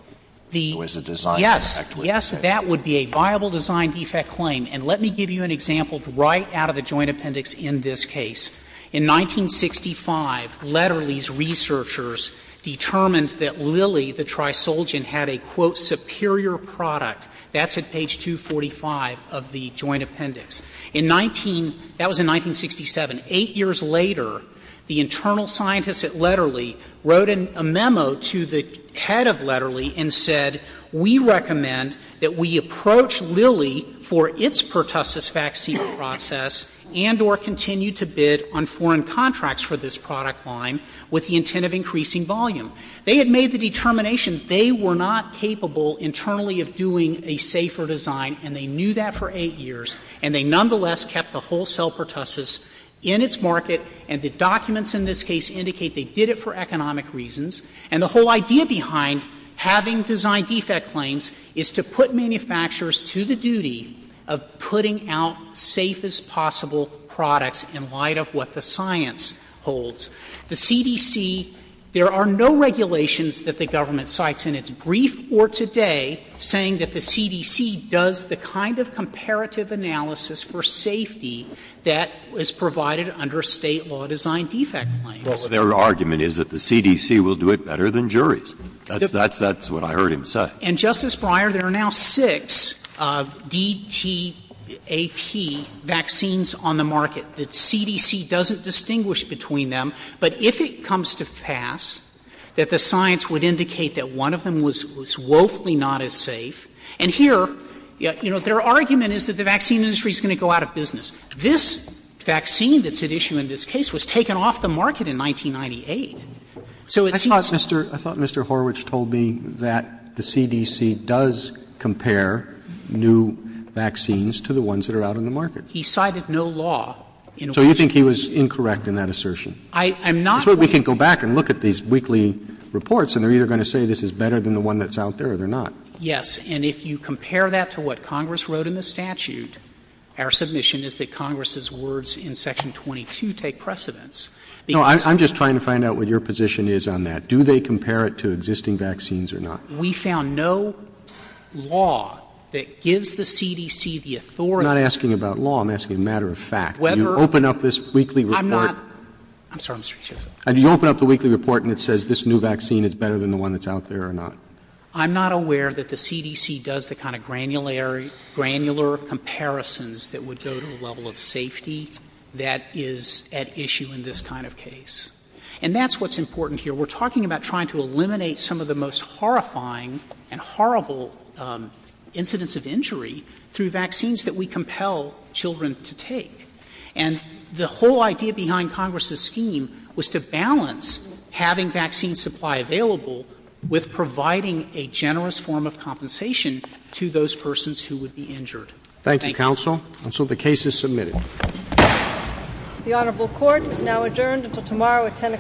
It was a design defect. Yes. Yes, that would be a viable design defect claim. And let me give you an example right out of the Joint Appendix in this case. In 1965, Letterley's researchers determined that Lilly, the trisulgin, had a, quote, superior product. That's at page 245 of the Joint Appendix. In 19 — that was in 1967. Eight years later, the internal scientists at Letterley wrote a memo to the head of Letterley and said, We recommend that we approach Lilly for its pertussis vaccine process and or continue to bid on foreign contracts for this product line with the intent of increasing volume. They had made the determination they were not capable internally of doing a safer design, and they knew that for eight years, and they nonetheless kept the wholesale pertussis in its market, and the documents in this case indicate they did it for economic reasons. And the whole idea behind having design defect claims is to put manufacturers to the duty of putting out safest possible products in light of what the science holds. The CDC — there are no regulations that the government cites in its brief or today saying that the CDC does the kind of comparative analysis for safety that is provided under State law design defect claims. Breyer, their argument is that the CDC will do it better than juries. That's what I heard him say. And, Justice Breyer, there are now six DTAP vaccines on the market that CDC doesn't distinguish between them, but if it comes to pass, that the science would indicate that one of them was woefully not as safe. And here, you know, their argument is that the vaccine industry is going to go out of business. This vaccine that's at issue in this case was taken off the market in 1998. So it seems to me that the CDC does compare new vaccines to the ones that are out on the market. He cited no law in Washington. So you think he was incorrect in that assertion? I'm not going to say this is better than the one that's out there, or they're not. Yes. And if you compare that to what Congress wrote in the statute, our submission is that Congress's words in section 22 take precedence. Because they're not. No, I'm just trying to find out what your position is on that. Do they compare it to existing vaccines or not? We found no law that gives the CDC the authority to do that. I'm not asking about law. I'm asking a matter of fact. Whether. Do you open up this weekly report? I'm not. I'm sorry, Mr. Chief Justice. Do you open up the weekly report and it says this new vaccine is better than the one that's out there or not? I'm not aware that the CDC does the kind of granular comparisons that would go to a level of safety that is at issue in this kind of case. And that's what's important here. We're talking about trying to eliminate some of the most horrifying and horrible incidents of injury through vaccines that we compel children to take. And the whole idea behind Congress's scheme was to balance having vaccine supply available with providing a generous form of compensation to those persons who would be injured. Thank you, counsel. And so the case is submitted. The honorable court is now adjourned until tomorrow at 10 o'clock.